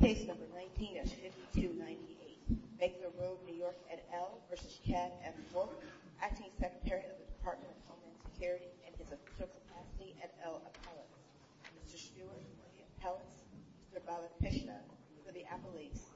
Page number 19 of 6298. The Road New York et al. v. Chad F. Wolf, Acting Secretary of the Department of Homeland Security and the Department of Homeland Security et al. Appellate. Mr. Stewart for the appellate, Mr. Bala-Pesha for the appellate. Mr. Bala-Pesha.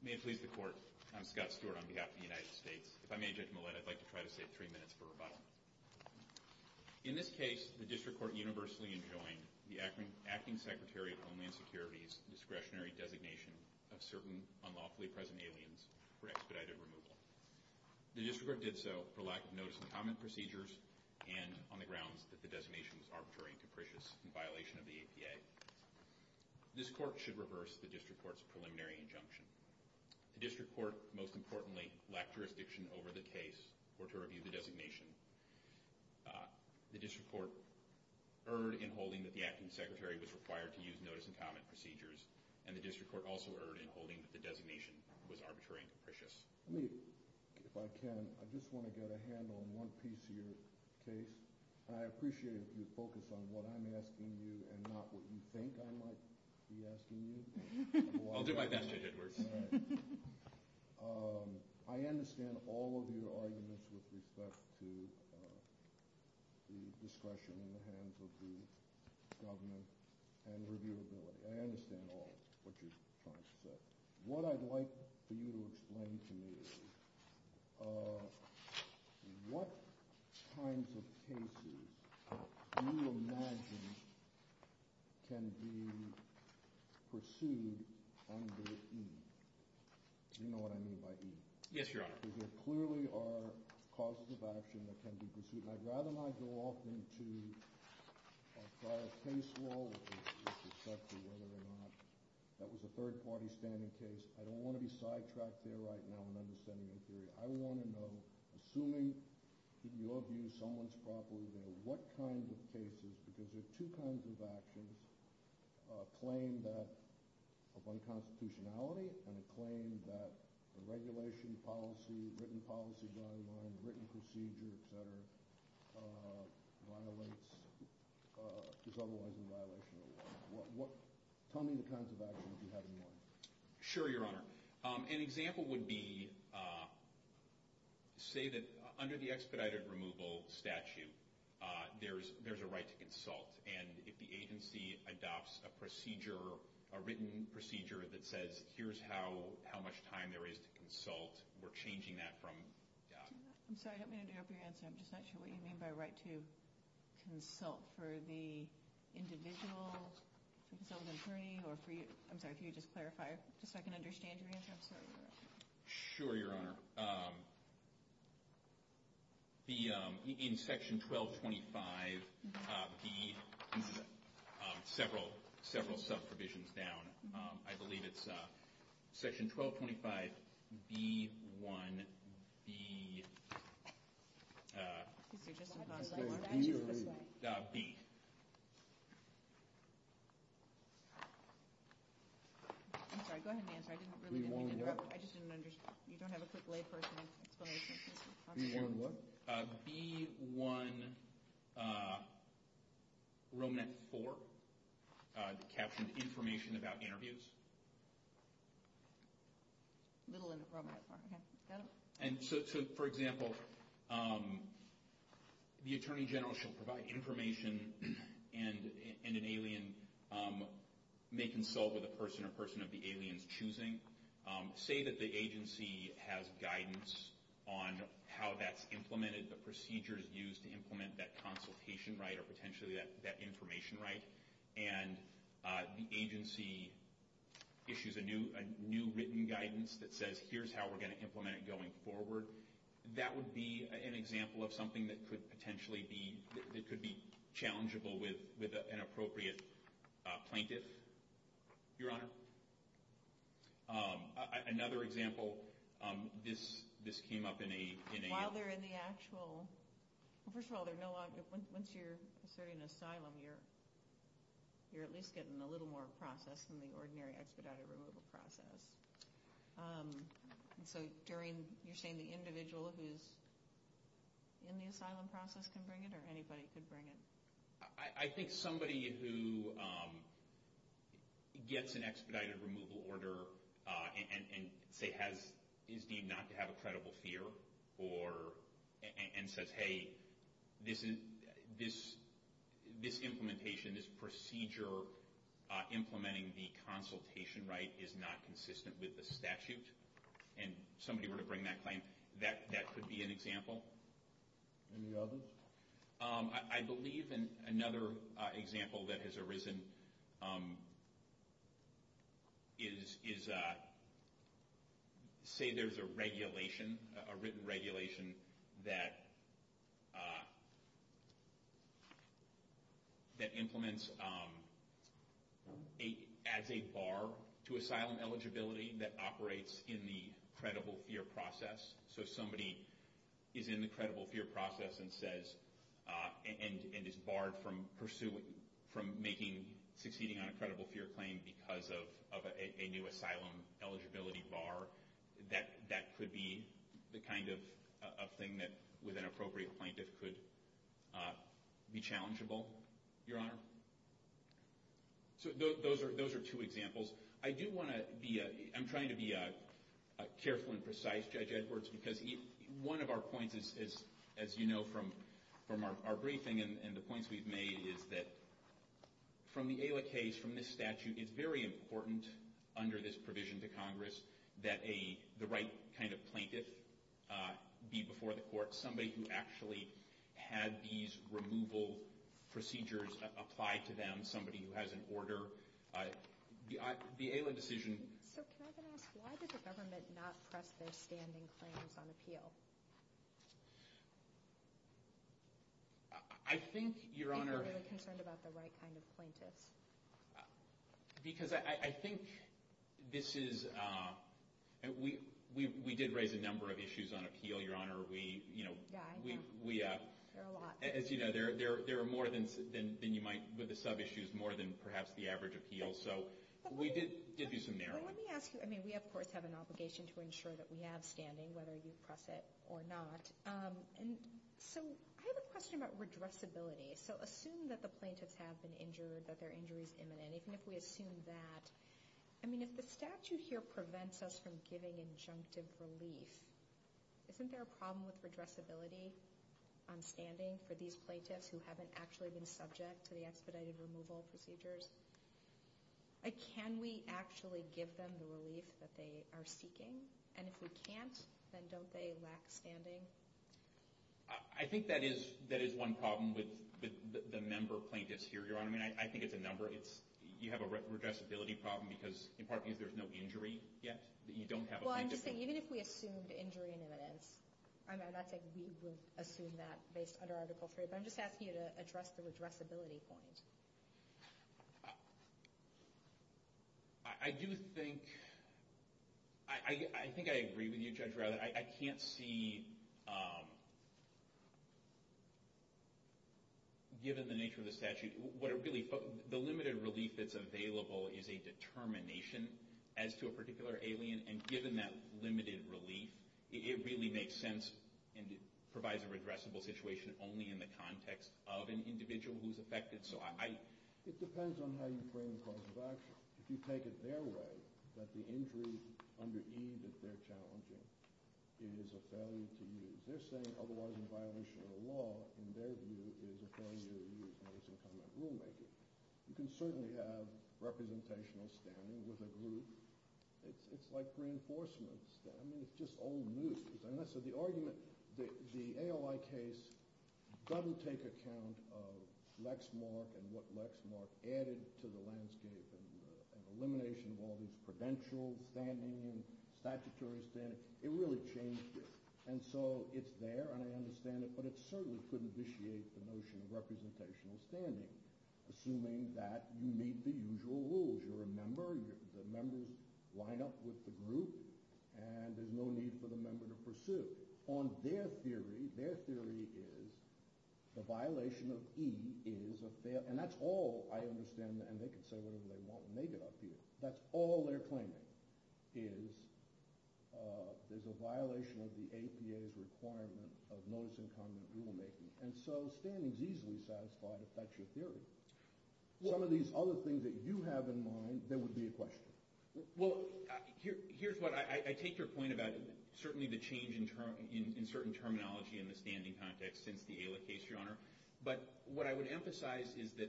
May it please the Court, I'm Scott Stewart on behalf of the United States. If I may, Judge Millett, I'd like to try to save three minutes for rebuttal. In this case, the District Court universally enjoined the Acting Secretary of Homeland Security's discretionary designation of certain unlawfully present aliens for expedited removal. The District Court did so for lack of notice of common procedures and on the grounds that the designation was arbitrary and capricious in violation of the APA. This Court should reverse the District Court's preliminary injunction. The District Court, most importantly, lacked jurisdiction over the case or to review the designation. The District Court erred in holding that the Acting Secretary was required to use notice of common procedures and the District Court also erred in holding that the designation was arbitrary and capricious. Let me, if I can, I just want to get a handle on one piece of your case. I appreciate that you focus on what I'm asking you and not what you think I might be asking you. I'll do my best, Judge Edwards. I understand all of your arguments with respect to the discretion in the hands of the government and review of the law. I understand all of what you're trying to say. What I'd like for you to explain to me is what kinds of cases do you imagine can be pursued under E? Do you know what I mean by E? Yes, Your Honor. There clearly are causes of action that can be pursued. I'd rather not go off into trial case law, which is reflected whether or not that was a third-party standing case. I don't want to be sidetracked there right now and then descending into E. I want to know, assuming in your view someone's property, what kinds of cases, because there are two kinds of actions, claim that are by constitutionality and claim that the regulation policy, written policy, written procedure, et cetera, violates disloyalty as a violation of the law. Tell me the kinds of actions you have in mind. Sure, Your Honor. An example would be, say that under the expedited removal statute, there's a right to consult. And if the agency adopts a procedure, a written procedure that says, here's how much time there is to consult, we're changing that from that. I'm sorry, I don't mean to interrupt your answer. I'm just not sure what you mean by right to consult for the individual, for the attorney, or for you. I'm sorry, can you just clarify, just so I can understand your answer? Sure, Your Honor. In Section 1225.B, several subdivisions down, I believe it's Section 1225.B.1.B. I'm sorry, go ahead and answer. I just didn't understand. You don't have a quick layperson explanation? B-1 what? B-1 Romnet 4, captions information about interviews. A little in the Romnet 4. And so, for example, the attorney general should provide information, and an alien may consult with a person or person of the alien's choosing. Say that the agency has guidance on how that's implemented, the procedures used to implement that consultation right or potentially that information right, and the agency issues a new written guidance that says, here's how we're going to implement it going forward. That would be an example of something that could potentially be, that could be challengeable with an appropriate plaintiff, Your Honor. Another example, this came up in a- While they're in the actual, first of all, once you're serving asylum, you're at least getting a little more process from the ordinary expedited removal process. So during, you're saying the individual who's in the asylum process can bring it or anybody can bring it? I think somebody who gets an expedited removal order and, say, this implementation, this procedure implementing the consultation right is not consistent with the statute, and somebody were to bring that claim, that could be an example. Any others? I believe another example that has arisen is, say there's a regulation, a written regulation that implements as a bar to asylum eligibility that operates in the credible fear process. So somebody is in the credible fear process and says, and is barred from pursuing, from making, succeeding on a credible fear claim because of a new asylum eligibility bar, that could be the kind of thing that, with an appropriate plaintiff, could be challengeable, Your Honor. So those are two examples. I do want to be, I'm trying to be careful and precise, Judge Edwards, because one of our points is, as you know from our briefing and the points we've made, is that from the AILA case, from this statute, it's very important under this provision to Congress that the right kind of plaintiff be before the court, somebody who actually had these removal procedures applied to them, somebody who has an order. The AILA decision- So can I just ask, why did the government not press the standing claims on appeal? I think, Your Honor- Because they're concerned about the right kind of plaintiff. Because I think this is, and we did raise a number of issues on appeal, Your Honor. We, you know- Yeah, there are a lot. As you know, there are more than, than you might, but the sub-issue is more than perhaps the average appeal. So we did do some narrowing. Let me ask you, I mean, we, of course, have an obligation to ensure that we have standing, whether you press it or not. And so I have a question about redressability. So assume that the plaintiff has been injured, that their injury is imminent. Even if we assume that, I mean, if the statute here prevents us from giving injunctive relief, isn't there a problem with redressability standing for these plaintiffs who haven't actually been subject to the expedited removal procedures? And can we actually give them the relief that they are seeking? And if we can't, then don't they lack standing? I think that is one problem with the member plaintiffs here, Your Honor. I mean, I think it's a number. You have a redressability problem because, in part, because there's no injury yet. You don't have a plaintiff- Well, I'm just saying, even if we assume the injury is imminent, I mean, I don't think we would assume that based under Article 3, but I'm just asking you to address the redressability point. I do think – I think I agree with you, Judge Rowland. I can't see, given the nature of the statute, what it really – the limited relief that's available is a determination as to a particular alien, and given that limited relief, it really makes sense and provides a redressable situation only in the context of an individual who's affected. So I don't- It depends on how you frame the cause of action. If you take it their way, that the injury, under ease of their challenging, is a failure to use. They're saying otherwise in violation of the law. In their view, it is a failure to use under some kind of rulemaking. You can certainly have representational standing with a group. It's like reinforcement standing. It's just old news. So the argument – the AOI case doesn't take account of Lexmark and what Lexmark added to the landscape of elimination of all these credentials, standing, and statutory standing. It really changed it. And so it's there, and I understand it, but it certainly couldn't initiate the notion of representational standing, assuming that you meet the usual rules. You're a member, and the members line up with the group, and there's no need for the member to pursue. On their theory, their theory is the violation of E is a failure. And that's all I understand, and they can say whatever they want when they get up here. That's all they're claiming is there's a violation of the APA's requirement of notice-income rulemaking. And so standing is easily satisfied if that's your theory. Some of these other things that you have in mind, there would be a question. Well, here's what – I take your point about certainly the change in certain terminology in the standing context in the AILA case, Your Honor. But what I would emphasize is that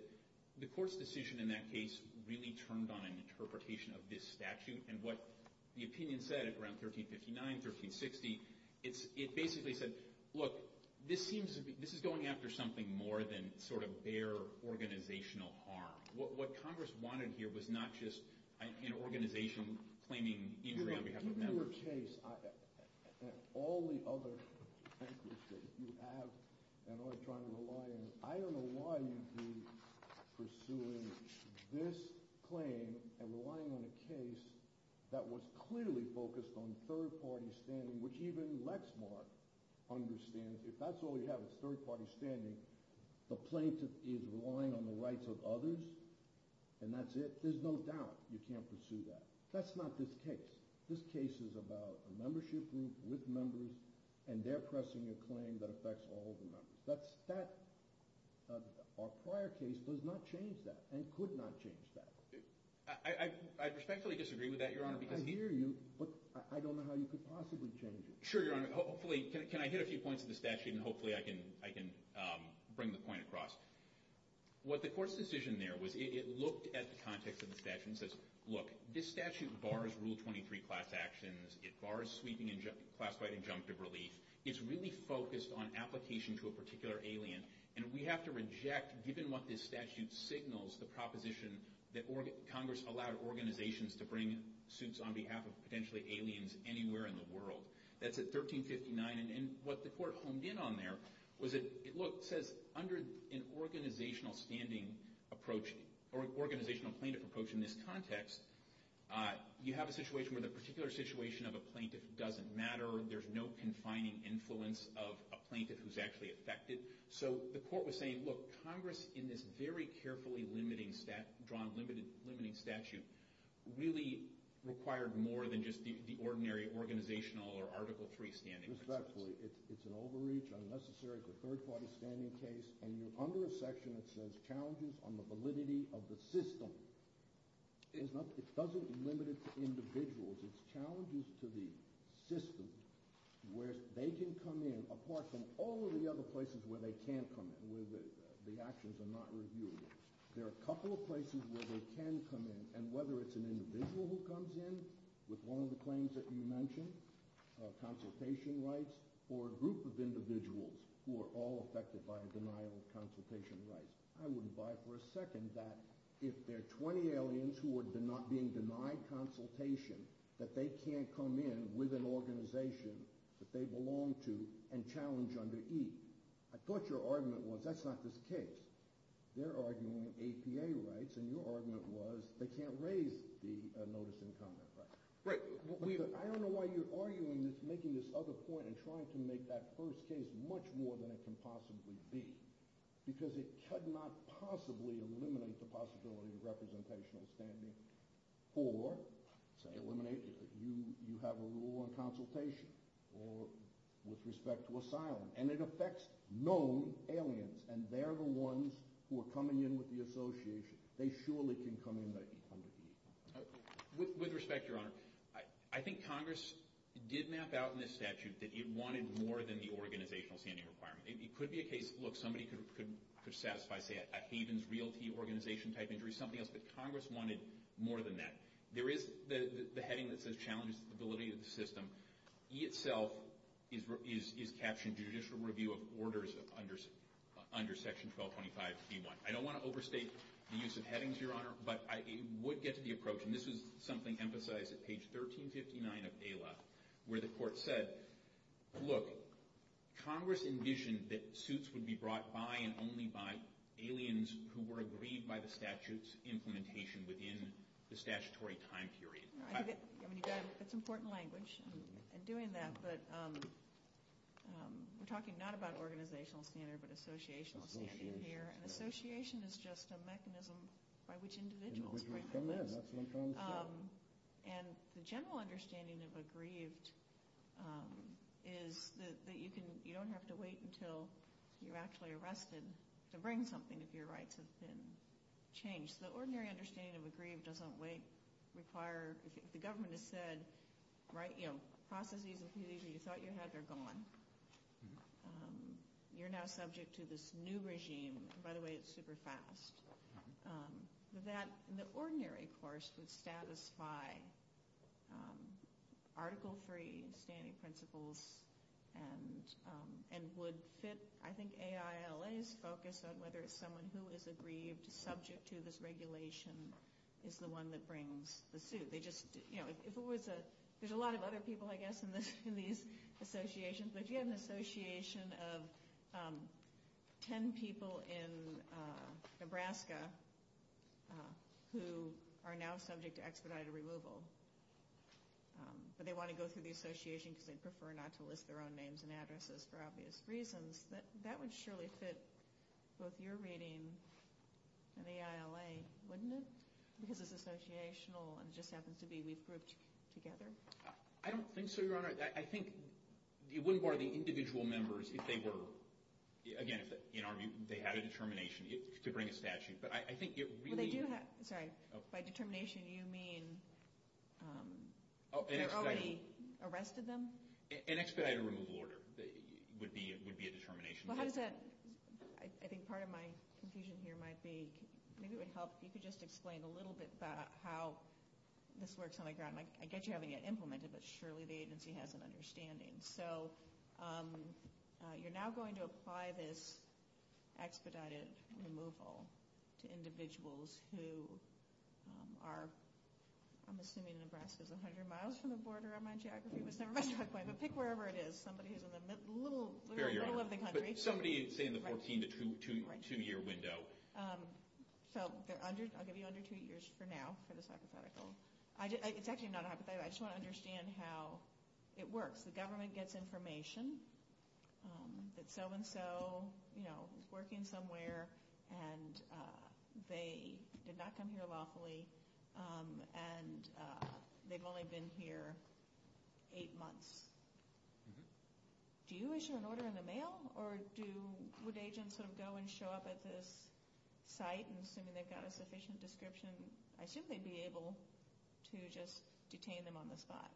the court's decision in that case really turned on an interpretation of this statute. And what the opinion said around 1359, 1360, it basically said, look, this is going after something more than sort of their organizational arm. What Congress wanted here was not just an organization claiming E is on behalf of members. In your case and all the other cases that you have and are trying to rely on, I don't know why you'd be pursuing this claim and relying on a case that was clearly focused on third-party standing, which even lacks more understanding. If that's all you have is third-party standing, the plaintiff is relying on the rights of others, and that's it. There's no doubt you can't pursue that. That's not this case. This case is about a membership group with members, and they're pressing a claim that affects all the members. That – our prior case does not change that and could not change that. I respectfully disagree with that, Your Honor. I hear you, but I don't know how you could possibly change it. Sure, Your Honor. Hopefully – can I hit a few points in the statute, and hopefully I can bring the point across? What the court's decision there was it looked at the context of the statute and says, look, this statute bars Rule 23 class actions. It bars sweeping and classified injunctive relief. It's really focused on application to a particular alien, and we have to reject, given what this statute signals, the proposition that Congress allowed organizations to bring suits on behalf of potentially aliens anywhere in the world. That's at 1359, and what the court honed in on there was it looked at, under an organizational standing approach or an organizational plaintiff approach in this context, you have a situation where the particular situation of a plaintiff doesn't matter. There's no confining influence of a plaintiff who's actually affected. So the court was saying, look, Congress, in this very carefully drawn limiting statute, really required more than just the ordinary organizational or Article III standing. Exactly. It's an overreach, unnecessary, third-party standing case, and you're under a section that says challenges on the validity of the system. It doesn't limit it to individuals. It's challenges to the system where they can come in, apart from all of the other places where they can't come in, where the actions are not reviewed. There are a couple of places where they can come in, and whether it's an individual who comes in, with all the claims that you mentioned, or consultation rights, or a group of individuals who are all affected by a denial of consultation rights. I would invite for a second that if there are 20 aliens who are not being denied consultation, that they can't come in with an organization that they belong to and challenge under E. I thought your argument was that's not this case. They're arguing APA rights, and your argument was they can't raise the notice in common. Right. I don't know why you're arguing this, making this other point, and trying to make that first case much more than it can possibly be, because it cannot possibly eliminate the possibility of representational standing, or eliminates it. You have a rule on consultation with respect to asylum, and it affects known aliens, and they're the ones who are coming in with the association. They surely can come in under E. With respect, Your Honor, I think Congress did map out in the statute that it wanted more than the organizational standing requirement. It could be a case, look, somebody could satisfy, say, a Hayden's Realty organization type injury, something else, but Congress wanted more than that. There is the heading that says challenge the ability of the system. E. itself is captioned judicial review of orders under Section 1225. I don't want to overstate the use of headings, Your Honor, but it would get to the approach, and this is something emphasized at page 1359 of AILA, where the court said, look, Congress envisioned that suits would be brought by and only by aliens who were aggrieved by the statute's implementation within the statutory time period. It's important language in doing that, but we're talking not about organizational standing, but associational standing here, and association is just a mechanism by which individuals come in. And the general understanding of aggrieved is that you don't have to wait until you're actually arrested to bring something if your rights have been changed. The ordinary understanding of aggrieved doesn't require, if the government has said, right, processes and procedures you thought you had are gone. You're now subject to this new regime. By the way, it's super fast. The ordinary course would satisfy Article III standing principles and would fit, I think, AILA's focus on whether it's someone who is aggrieved, subject to this regulation, is the one that brings the suit. There's a lot of other people, I guess, in these associations, but if you have an association of ten people in Nebraska who are now subject to expedited removal, but they want to go through the association because they prefer not to list their own names and addresses for obvious reasons, that would surely fit both your reading and AILA, wouldn't it, because it's associational and just happens to be reproved together? I don't think so, Your Honor. I think it wouldn't bar the individual members if they were, again, if they had a determination to bring a statute, but I think it really... But they do have, sorry, by determination you mean they're already arrested them? An expedited removal order would be a determination. Well, how does that, I think part of my confusion here might be, maybe it would help if you could just explain a little bit about how this works on the ground. I get you having it implemented, but surely the agency has an understanding. So you're now going to apply this expedited removal to individuals who are, I'm assuming Nebraska's 100 miles from the border on my geography, but pick wherever it is. Somebody who's in the middle of the country. Somebody, say, in the 14 to two-year window. So I'll give you under two years for now for this hypothetical. It's actually not a hypothetical. I just want to understand how it works. The government gets information that so-and-so is working somewhere, and they did not come here lawfully, and they've only been here eight months. Do you issue an order in the mail, or would agents go and show up at this site and assume that they've got a sufficient description? I assume they'd be able to just detain them on the spot.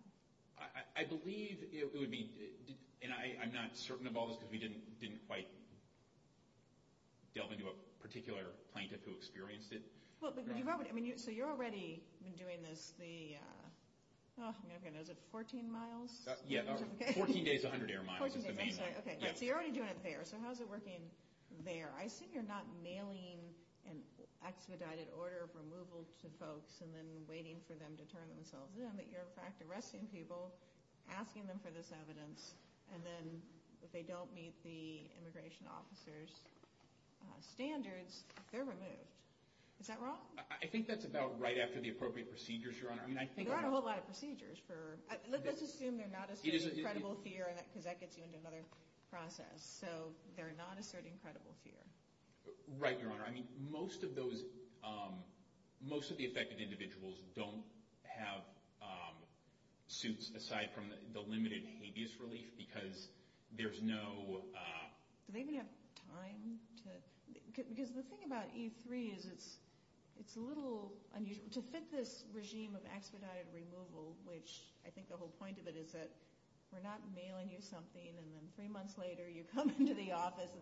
I believe it would be, and I'm not certain of all this, because we didn't quite delve into a particular plaintiff who experienced it. So you're already doing this, is it 14 miles? Yeah, 14 days, 100 air miles. 14 days, okay. So you're already doing it there. So how's it working there? I assume you're not mailing an expedited order of removal to folks and then waiting for them to turn themselves in, but you're, in fact, arresting people, asking them for this evidence, and then if they don't meet the immigration officer's standards, they're removed. Is that wrong? I think that's about right after the appropriate procedures are on. There aren't a whole lot of procedures. Let's assume they're not asserting credible fear because that gets you into another process. So they're not asserting credible fear. Right, Your Honor. I mean, most of the affected individuals don't have suits, aside from the limited habeas relief, because there's no – Do they even have time to – because the thing about E3 is it's a little unusual. To fit this regime of expedited removal, which I think the whole point of it is that we're not mailing you something, and then three months later you come into the office, and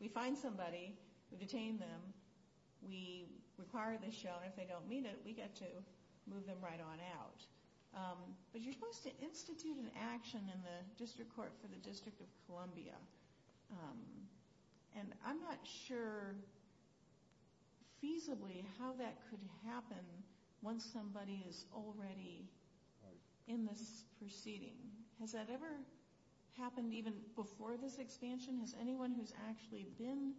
we find somebody, we detain them, we require the show, and if they don't meet it, we get to move them right on out. But you're supposed to institute an action in the district court for the District of Columbia. And I'm not sure feasibly how that could happen once somebody is already in this proceeding. Has that ever happened even before this expansion? Has anyone who's actually been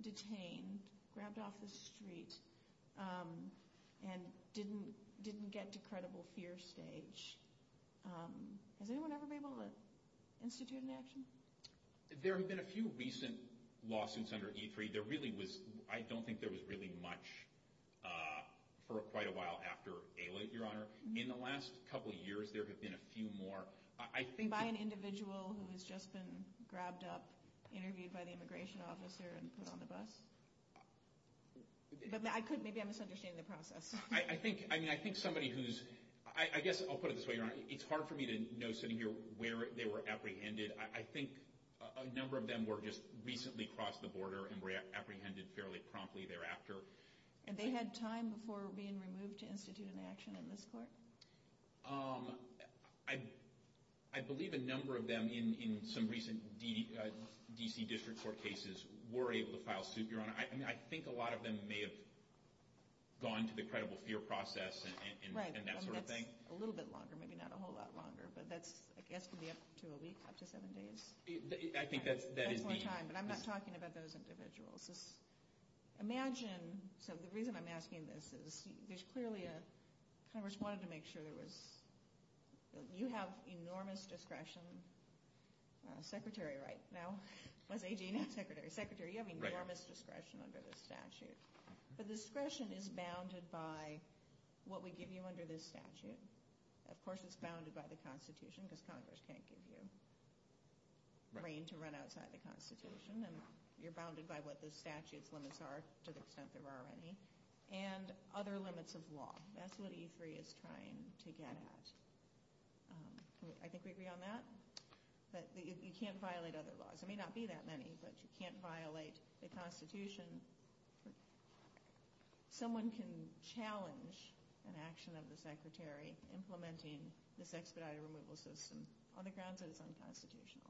detained, grabbed off the street, and didn't get to credible fear stage? Has anyone ever been able to institute an action? There have been a few recent lawsuits under E3. There really was – I don't think there was really much for quite a while after AILA, Your Honor. In the last couple of years, there have been a few more. By an individual who has just been grabbed up, interviewed by the immigration officer, and put on the bus? Maybe I'm misunderstanding the process. I think somebody who's – I guess I'll put it this way, Your Honor. It's hard for me to know sitting here where they were apprehended. I think a number of them were just recently crossed the border and were apprehended fairly promptly thereafter. And they had time before being removed to institute an action in this court? I believe a number of them in some recent D.C. district court cases were able to file suit, Your Honor. I think a lot of them may have gone to the credible fear process and that sort of thing. A little bit longer, maybe not a whole lot longer. But that's, I guess, to a week after seven days? I think that is – I'm not talking about those individuals. Imagine – so the reason I'm asking this is there's clearly a – Congress wanted to make sure there was – you have enormous discretion. Secretary, right? Secretary, you have enormous discretion under this statute. The discretion is bounded by what we give you under this statute. Of course, it's bounded by the Constitution because Congress can't give you rein to run outside the Constitution. And you're bounded by what the statute's limits are to the extent there are any. And other limits of law. That's what E3 is trying to get at. I think we agree on that? That you can't violate other laws. There may not be that many, but you can't violate the Constitution. Someone can challenge an action of the Secretary implementing this expedited removal system on the grounds that it's unconstitutional.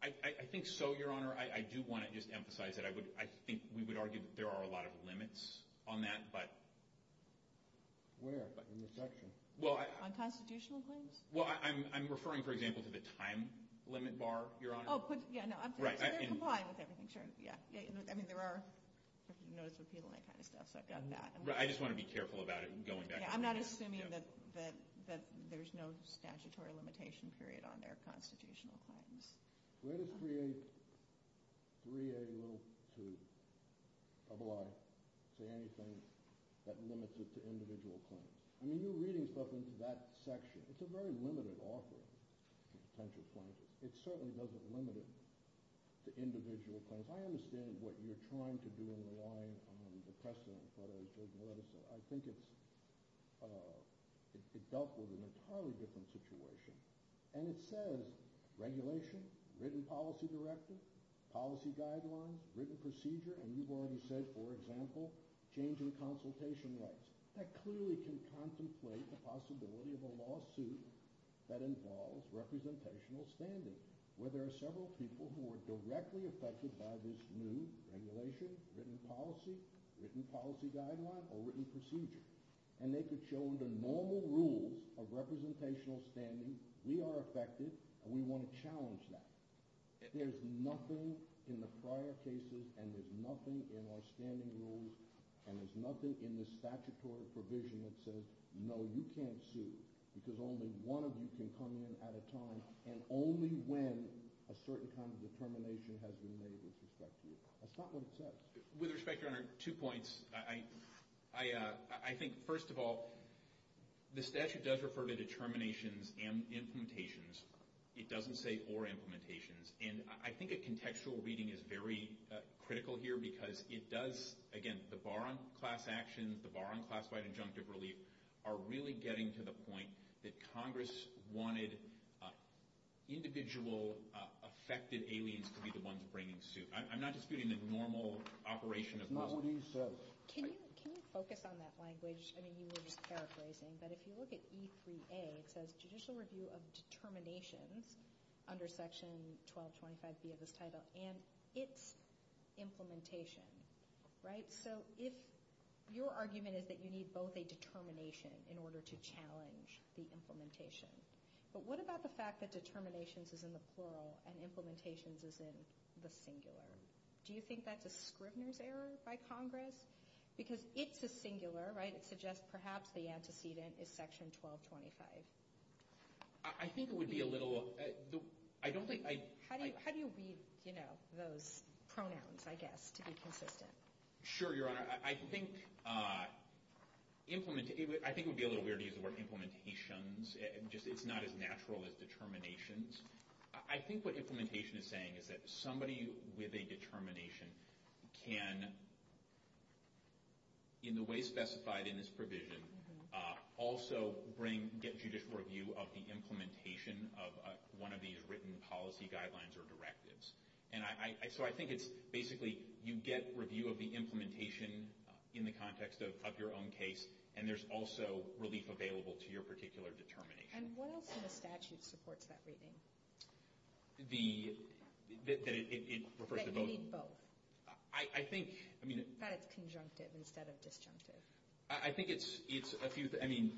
I think so, Your Honor. I do want to just emphasize that I think we would argue that there are a lot of limits on that, but – Where, but in this section? On constitutional claims? Well, I'm referring, for example, to the time limit bar, Your Honor. Oh, yeah, no, I'm complying with everything. Sure, yeah. I mean, there are people like that and stuff that have done that. I just want to be careful about it going back. Yeah, I'm not assuming that there's no statutory limitation period on their constitutional claims. Let us create 3A, Rule 2 of the law. Say anything that limits it to individual claims. I mean, you're reading stuff into that section. It's a very limited offer, potential claims. It certainly doesn't limit it to individual claims. I understand what you're trying to do in relying on the precedent. I think it's dealt with in an entirely different situation. And it says regulation, written policy directive, policy guidelines, written procedure, and you've already said, for example, changing consultation rights. That clearly can contemplate the possibility of a lawsuit that involves representational standing, where there are several people who are directly affected by this new regulation, written policy, written policy guideline, or written procedure. And they could show the normal rules of representational standing. We are affected, and we want to challenge that. There's nothing in the prior cases, and there's nothing in our standing rules, and there's nothing in the statutory provision that says, no, you can't sue, because only one of you can come in at a time, and only when a certain kind of determination has been made with respect to you. That's not what it says. With respect, Your Honor, two points. I think, first of all, the statute does refer to determinations and implementations. It doesn't say or implementations. And I think a contextual reading is very critical here because it does, again, the bar on class action, the bar on classified injunctive relief, are really getting to the point that Congress wanted individual affected aliens to be the ones bringing suit. I'm not disputing the normal operation of the lawsuit. Can you focus on that language? I mean, you were just paraphrasing, but if you look at E3A, it says judicial review of determination under Section 1225B of this title and its implementation, right? So if your argument is that you need both a determination in order to challenge the implementation, but what about the fact that determinations is in the plural and implementations is in the singular? Do you think that's a scrivener's error by Congress? Because it's a singular, right? It suggests perhaps the antecedent is Section 1225. I think it would be a little – I don't think – How do you read those pronouns, I guess, to be consistent? Sure, Your Honor. I think it would be a little weird to use the word implementations. It's not as natural as determinations. I think what implementation is saying is that somebody with a determination can, in the way specified in this provision, also get judicial review of the implementation of one of these written policy guidelines or directives. So I think it's basically you get review of the implementation in the context of your own case, and there's also relief available to your particular determination. And what else in the statute supports that reading? That it refers to both? That you need both. I think – That it's conjunctive instead of disjunctive. I think it's a few – I mean,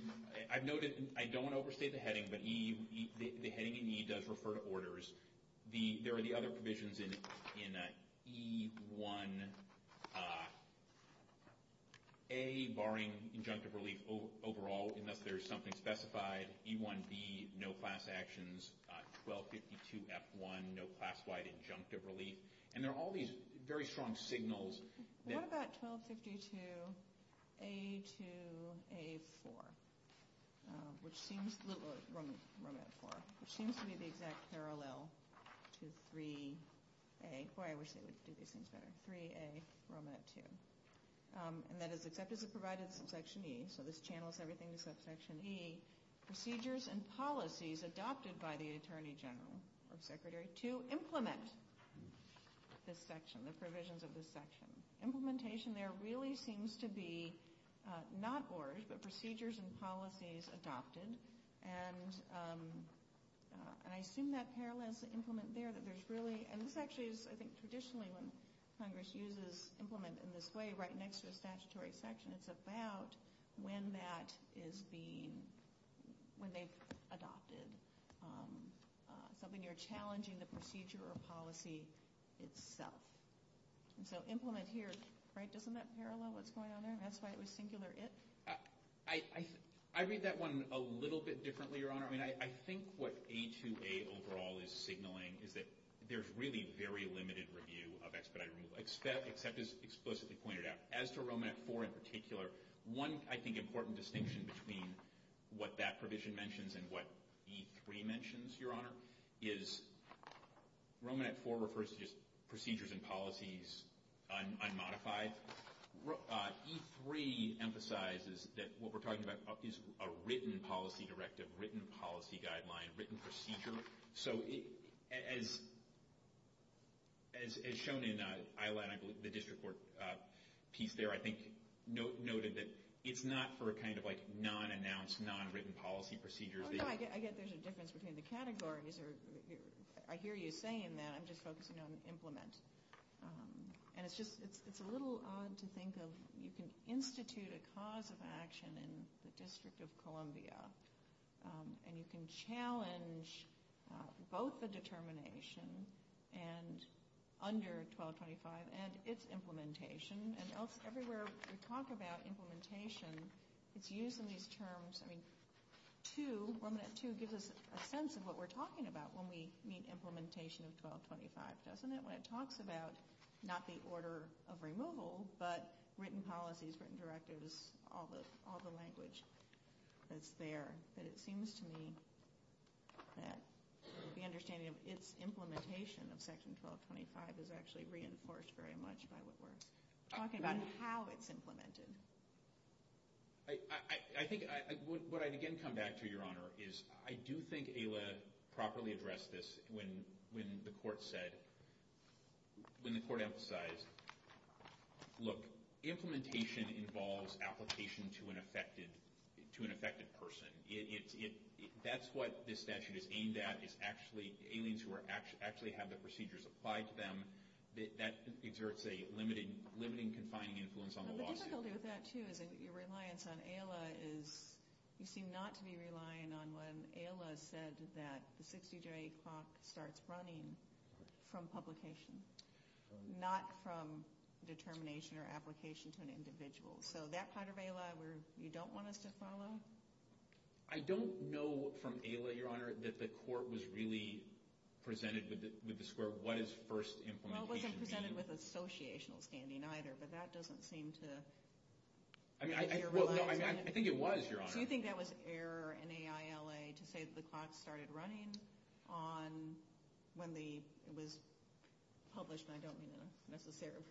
I've noted I don't want to overstate the heading, but the heading in E does refer to orders. There are the other provisions in E1A, barring conjunctive relief overall, and that there's something specified, E1B, no class actions, 1252F1, no class-wide injunctive relief. And there are all these very strong signals. What about 1252A2A4, which seems to be the exact parallel to 3A, where I wish they would do these things better. 3A, Roman at 2. And that it's effectively provided in Section E. So this channels everything that's got Section E. Procedures and policies adopted by the Attorney General or Secretary to implement this section, the provisions of this section. Implementation there really seems to be not orders, but procedures and policies adopted. And I assume that parallels the implement there, that there's really – and this actually is, I think, traditionally when Congress uses implement in this way, right next to a statutory section, it's about when that is being – when they've adopted something. You're challenging the procedure or policy itself. And so implement here, doesn't that parallel what's going on there? That's why it was singular, it. Your Honor, I mean, I think what A2A overall is signaling is that there's really very limited review of expedited relief, except as explicitly pointed out, as to Roman at 4 in particular, one, I think, important distinction between what that provision mentions and what E3 mentions, Your Honor, is Roman at 4 refers to just procedures and policies unmodified. E3 emphasizes that what we're talking about is a written policy directive, written policy guideline, written procedure. So as shown in the District Court piece there, I think noted that it's not for a kind of like non-announced, non-written policy procedure. I guess there's a difference between the categories. I hear you saying that. I'm just focusing on implement. And it's a little odd to think of you can institute a cause of action in the District of Columbia and you can challenge both the determination and under 1225 and its implementation. And also everywhere we talk about implementation, it's used in these terms. I mean, two, Roman at 2 gives us a sense of what we're talking about when we mean implementation of 1225, doesn't it? When it talks about not the order of removal, but written policies, written directives, all the language that's there, it seems to me that the understanding of its implementation of Section 1225 is actually reinforced very much by what we're talking about is how it's implemented. I think what I'd again come back to, Your Honor, is I do think AILA properly addressed this when the court said, when the court emphasized, look, implementation involves application to an effected person. That's what this statute is aimed at. It's actually aliens who actually have the procedures applied to them. That exerts a limiting, confining influence on the lawsuit. The difficulty with that, too, is that your reliance on AILA is you seem not to be relying on when AILA says that the 60-day clock starts running from publication, not from determination or application to an individual. So that kind of AILA where you don't want us to follow? I don't know from AILA, Your Honor, that the court was really presented with the score of what is first implementation. Well, it wasn't presented with associational standing either, but that doesn't seem to be your reliance. I think it was, Your Honor. Do you think that was error in AILA to say that the clock started running on when it was published, but I don't mean necessarily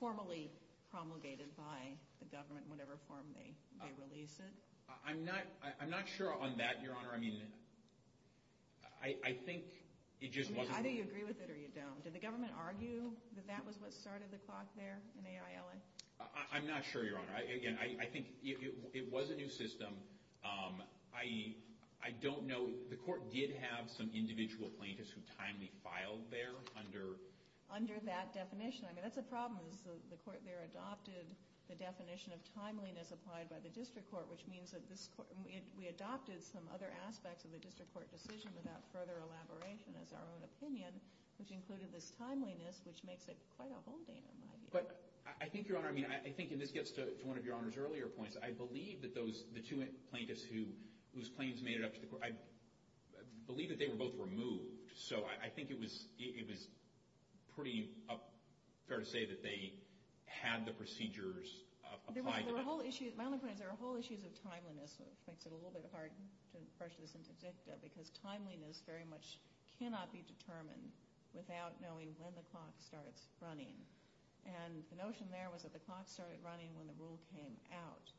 formally promulgated by the government in whatever form they released it? I'm not sure on that, Your Honor. I think it just wasn't. Either you agree with it or you don't. Did the government argue that that was what started the clock there in AILA? I'm not sure, Your Honor. Again, I think it was a new system. I don't know. The court did have some individual plaintiffs who timely filed there under that definition. I mean, that's a problem. The court there adopted the definition of timeliness applied by the district court, which means that we adopted some other aspects of the district court decision without further elaboration. That's our own opinion, which included this timeliness, which makes it quite a whole thing in my view. But I think, Your Honor, I mean, I think this gets to one of Your Honor's earlier points. I believe that the two plaintiffs whose claims made it up to the court, I believe that they were both removed. So I think it was pretty fair to say that they had the procedures applied to them. My only point is there were whole issues of timeliness, which makes it a little bit hard to brush this into victa, because timeliness very much cannot be determined without knowing when the clock starts running. And the notion there was that the clock started running when the rule came out,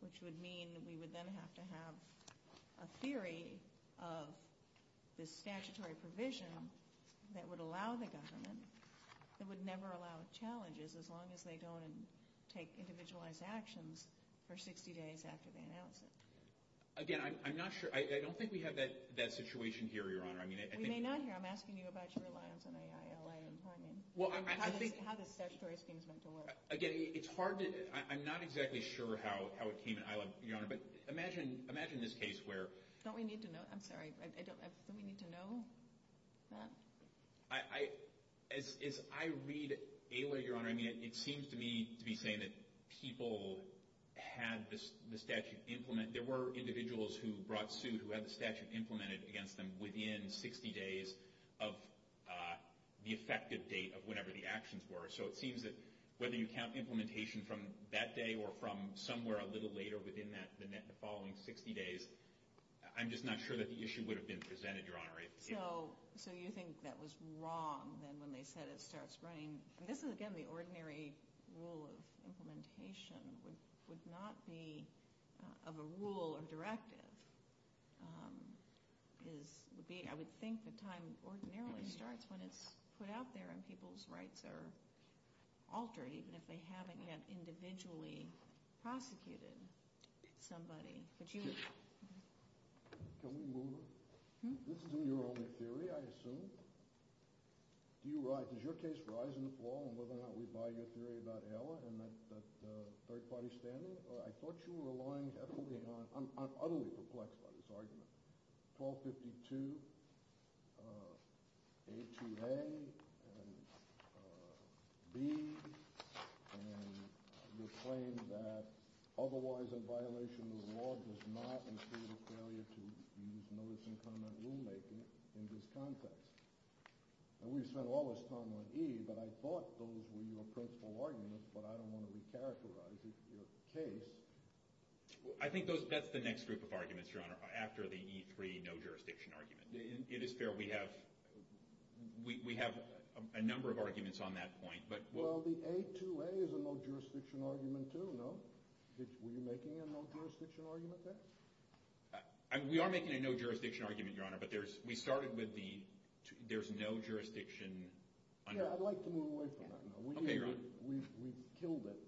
which would mean that we would then have to have a theory of this statutory provision that would allow the government. It would never allow challenges as long as they don't take individualized actions for 60 days after they announce it. Again, I'm not sure. I don't think we have that situation here, Your Honor. You may not, Your Honor. I'm asking you about your reliance on AI. Well, I think – How the statutory schemes went to work. Again, it's hard to – I'm not exactly sure how it came out, Your Honor. But imagine this case where – Don't we need to know – I'm sorry. Don't we need to know that? As I read AILA, Your Honor, it seems to me to be saying that people had the statute implemented. There were individuals who brought suit who had the statute implemented against them within 60 days of the effective date of whatever the actions were. So it seems that whether you count implementation from that day or from somewhere a little later within the following 60 days, I'm just not sure that the issue would have been presented, Your Honor. So you think that was wrong then when they said it starts running. This is, again, the ordinary rule of implementation, which would not be of a rule or directive. I would think the time ordinarily starts when it's put out there and people's rights are altered, even if they haven't yet individually prosecuted somebody. Can we move on? This is in your own theory, I assume. Do you – does your case rise and fall on whether or not we buy your theory about AILA and that third-party standards? I thought you were relying heavily on – I'm utterly perplexed by this argument. 1252, A2A, and B, and your claim that otherwise in violation of the law does not include the failure to use notice and comment rulemaking in this context. And we've spent all this time on E, but I thought those were your principal arguments, but I don't want to re-characterize your case. I think that's the next group of arguments, Your Honor, after the E3 no-jurisdiction argument. It is fair. We have a number of arguments on that point. Well, the A2A is a no-jurisdiction argument too, no? Were you making a no-jurisdiction argument then? We are making a no-jurisdiction argument, Your Honor, but we started with the there's no jurisdiction. Yeah, I'd like to move away from that. Okay, Your Honor. We've killed it.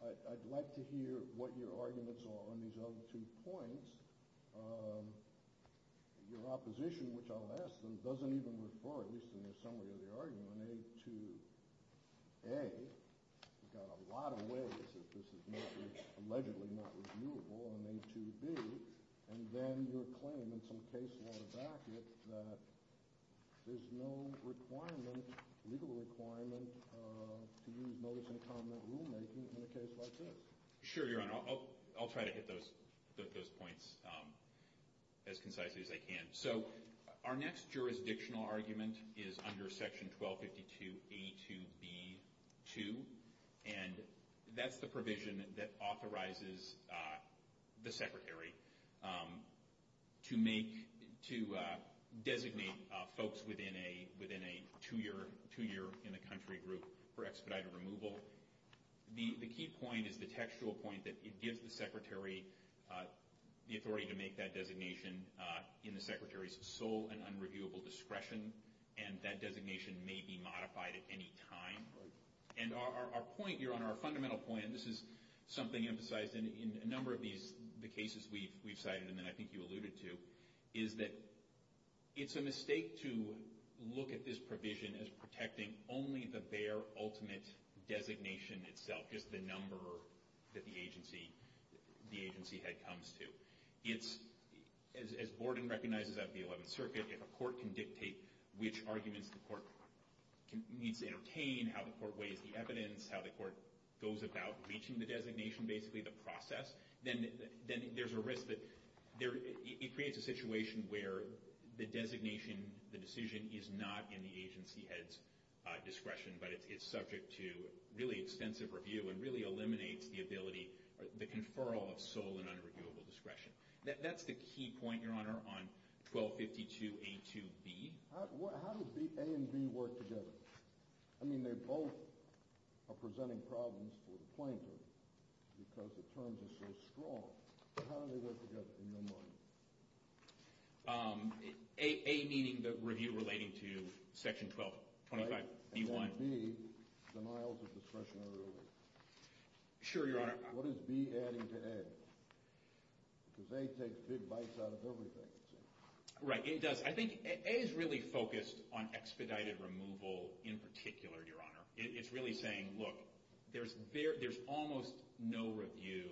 I'd like to hear what your arguments are on these other two points. Your opposition, which I'll ask, doesn't even refer, at least in the summary of the argument, A2A. You've got a lot of ways that this is allegedly not reviewable in A2B. And then your claim in some cases on the back of it that there's no requirement, legal requirement, to use notice and comment rulemaking in a case like this. Sure, Your Honor. I'll try to hit those points as concisely as I can. So, our next jurisdictional argument is under Section 1252A2B2. And that's the provision that authorizes the Secretary to designate folks within a two-year in-the-country group for expedited removal. The key point is the textual point that you give the Secretary the authority to make that designation in the Secretary's sole and unreviewable discretion, and that designation may be modified at any time. And our point here, Your Honor, our fundamental point, and this is something emphasized in a number of the cases we've cited and I think you alluded to, is that it's a mistake to look at this provision as protecting only the bare ultimate designation itself, just the number that the agency head comes to. As Borden recognizes out of the Eleventh Circuit, if a court can dictate which arguments the court needs to entertain, how the court weighs the evidence, how the court goes about reaching the designation, basically the process, then there's a risk that it creates a situation where the designation, the decision, is not in the agency head's discretion, but it's subject to really extensive review and really eliminates the ability, the conferral of sole and unreviewable discretion. That's the key point, Your Honor, on 1252A2B. How does A and B work together? I mean, they both are presenting problems for the plaintiff because the terms are so strong. How are they going to get the memo? A meaning the review relating to Section 1225B1. And then B, the miles of discretionary order. Sure, Your Honor. What is B adding to A? Because A takes big bites out of everything. Right, it does. I think A is really focused on expedited removal in particular, Your Honor. It's really saying, look, there's almost no review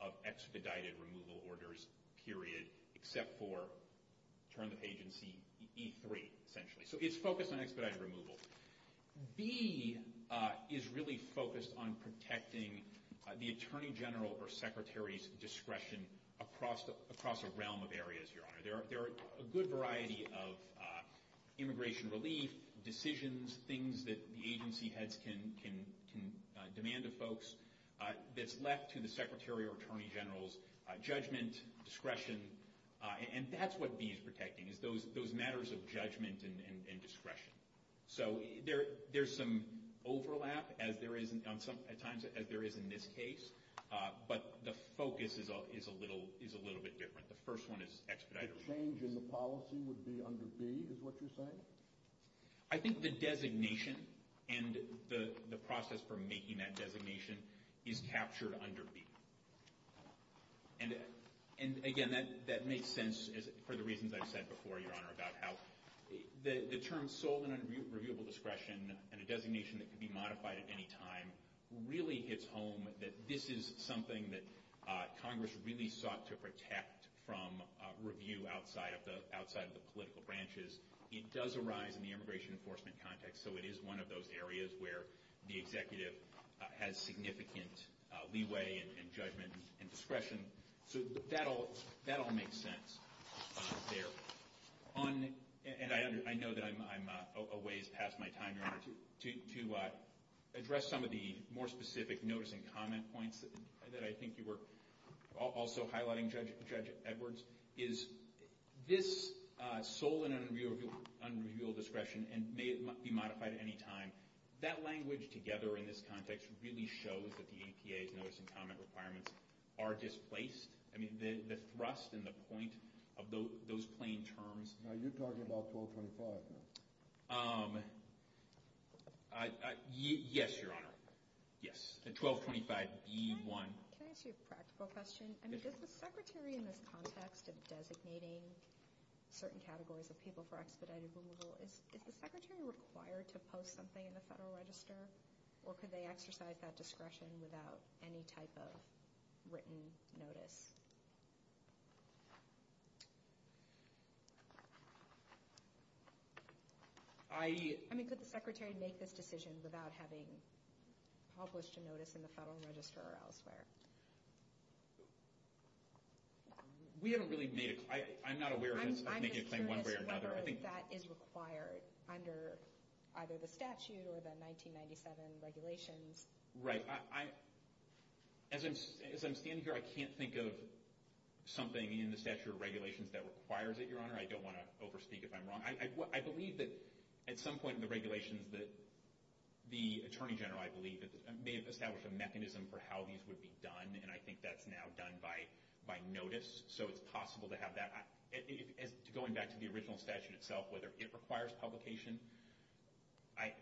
of expedited removal orders, period, except for terms of agency E3, essentially. So it's focused on expedited removal. B is really focused on protecting the attorney general or secretary's discretion across a realm of areas, Your Honor. There are a good variety of immigration relief decisions, things that the agency heads can demand of folks, that's left to the secretary or attorney general's judgment, discretion, and that's what B is protecting, is those matters of judgment and discretion. So there's some overlap at times, as there is in this case, but the focus is a little bit different. The first one is expedited removal. The change in the policy would be under B, is what you're saying? I think the designation and the process for making that designation is captured under B. And, again, that makes sense for the reasons I've said before, Your Honor, about how the term sole and unreviewable discretion and a designation that can be modified at any time really hits home that this is something that Congress really sought to protect from review outside of the political branches. It does arise in the immigration enforcement context, so it is one of those areas where the executive has significant leeway and judgment and discretion. So that all makes sense there. And I know that I'm a ways past my time, Your Honor, to address some of the more specific notice and comment points that I think you were also highlighting, Judge Edwards, is this sole and unreviewable discretion, and may it not be modified at any time, that language together in this context really shows that the APA's notice and comment requirements are displaced. I mean, the thrust and the point of those plain terms. Now, you're talking about 1225. Yes, Your Honor. Yes, the 1225E1. Can I ask you a practical question? I mean, is the Secretary in this context of designating certain categories of people for expedited removal, is the Secretary required to post something in the Federal Register, or can they exercise that discretion without any type of written notice? I mean, could the Secretary make this decision without having published a notice in the Federal Register or elsewhere? We haven't really made it. I'm not aware of making it plain one way or another. That is required under either the statute or the 1997 regulations. Right. As I'm standing here, I can't think of something in the statute or regulations that requires it, Your Honor. I don't want to overspeak if I'm wrong. I believe that at some point in the regulations that the Attorney General, I believe, may have established a mechanism for how these would be done, and I think that's now done by notice, so it's possible to have that. Going back to the original statute itself, whether it requires publication, I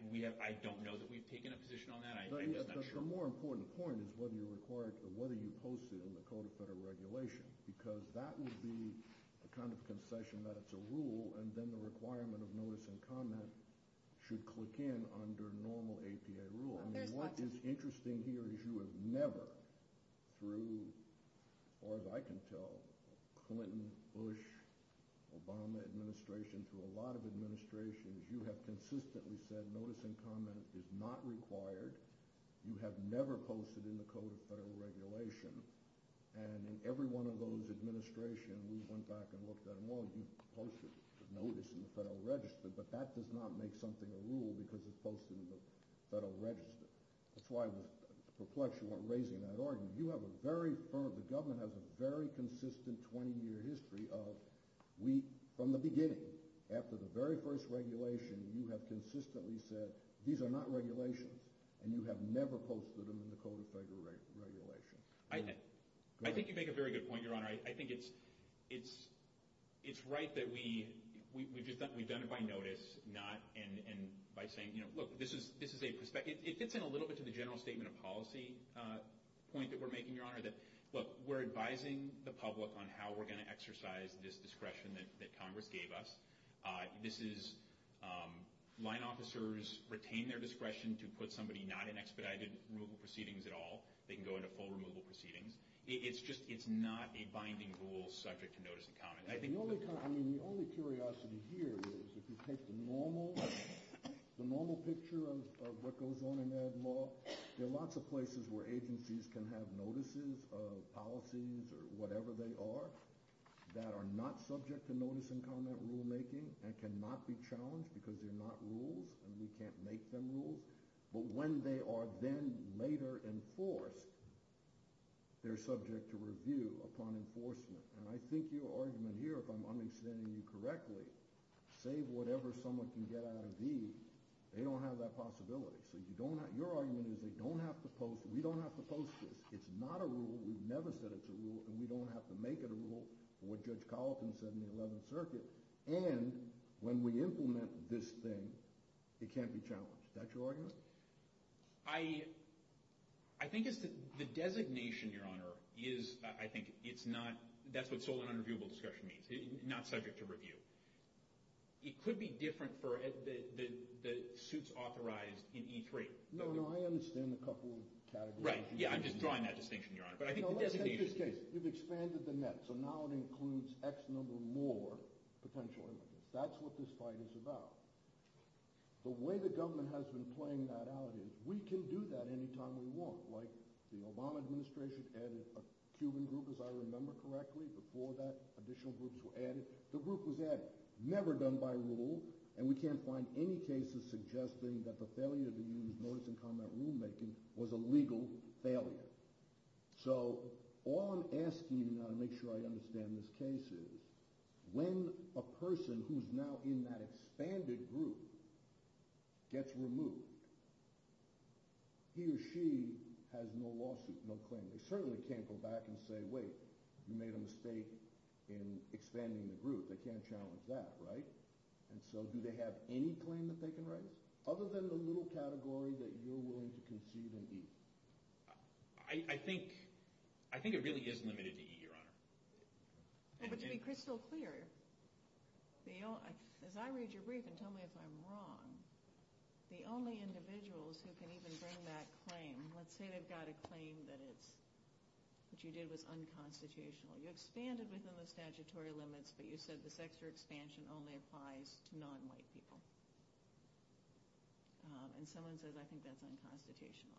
don't know that we've taken a position on that. But, Your Honor, a more important point is whether you post it in the Code of Federal Regulation, because that would be a kind of concession that it's a rule, and then the requirement of notice and comment should click in under normal APA rule. What is interesting here is you have never, through, as far as I can tell, Clinton, Bush, Obama administrations, through a lot of administrations, you have consistently said notice and comment is not required. You have never posted in the Code of Federal Regulation, and in every one of those administrations, we've gone back and looked at them all, notice in the Federal Register, but that does not make something a rule because it's posted in the Federal Register. That's why I was reflecting on raising that argument. The government has a very consistent 20-year history of, from the beginning, after the very first regulation, you have consistently said these are not regulations, and you have never posted them in the Code of Federal Regulation. I think it's right that we've done it by notice and by saying, look, this is a perspective. It fits in a little bit to the general statement of policy point that we're making, Your Honor, that, look, we're advising the public on how we're going to exercise this discretion that Congress gave us. This is line officers retain their discretion to put somebody not in expedited removal proceedings at all. They can go into full removal proceedings. It's not a binding rule subject to notice and comment. The only curiosity here is if you take the normal picture of what goes on in there in law, there are lots of places where agencies can have notices of policies or whatever they are that are not subject to notice and comment rulemaking and cannot be challenged because they're not rules and we can't make them rules. But when they are then later enforced, they're subject to review upon enforcement. And I think your argument here, if I'm understanding you correctly, say whatever someone can get out of these, they don't have that possibility. So your argument is they don't have to post it. We don't have to post this. It's not a rule. We've never said it's a rule, and we don't have to make it a rule, like Judge Carlton said in the 11th Circuit. And when we implement this thing, it can't be challenged. Is that your argument? I think it's the designation, Your Honor, is I think it's not. That's what sole and interviewable discussion means. It's not subject to review. It could be different for the suits authorized in E3. No, no, I understand the couple of categories. Right, yeah, I'm just drawing that distinction, Your Honor. But I think the designation is different. No, let's just get it. You've expanded the net, so now it includes X number more potential evidence. That's what this fight is about. The way the government has been playing that out is we can do that any time we want, like the Obama administration added a Cuban group, as I remember correctly. Before that, additional groups were added. The group was added. Never done by rule, and we can't find any cases suggesting that the failure of the Union's notice and comment rulemaking was a legal failure. So all I'm asking, now to make sure I understand this case, is when a person who's now in that expanded group gets removed, he or she has no lawsuit, no claim. They certainly can't go back and say, wait, you made a mistake in expanding the group. They can't challenge that, right? And so do they have any claim to pick and race, other than the little category that you're willing to concede and eat? I think it really is limited to E, Your Honor. But to be crystal clear, as I read your brief and tell me if I'm wrong, the only individuals who can even bring back claim, let's say they've got a claim that what you did was unconstitutional. You expanded within the statutory limits, but you said the sexual expansion only applies to non-white people. And someone says, I think that's unconstitutional.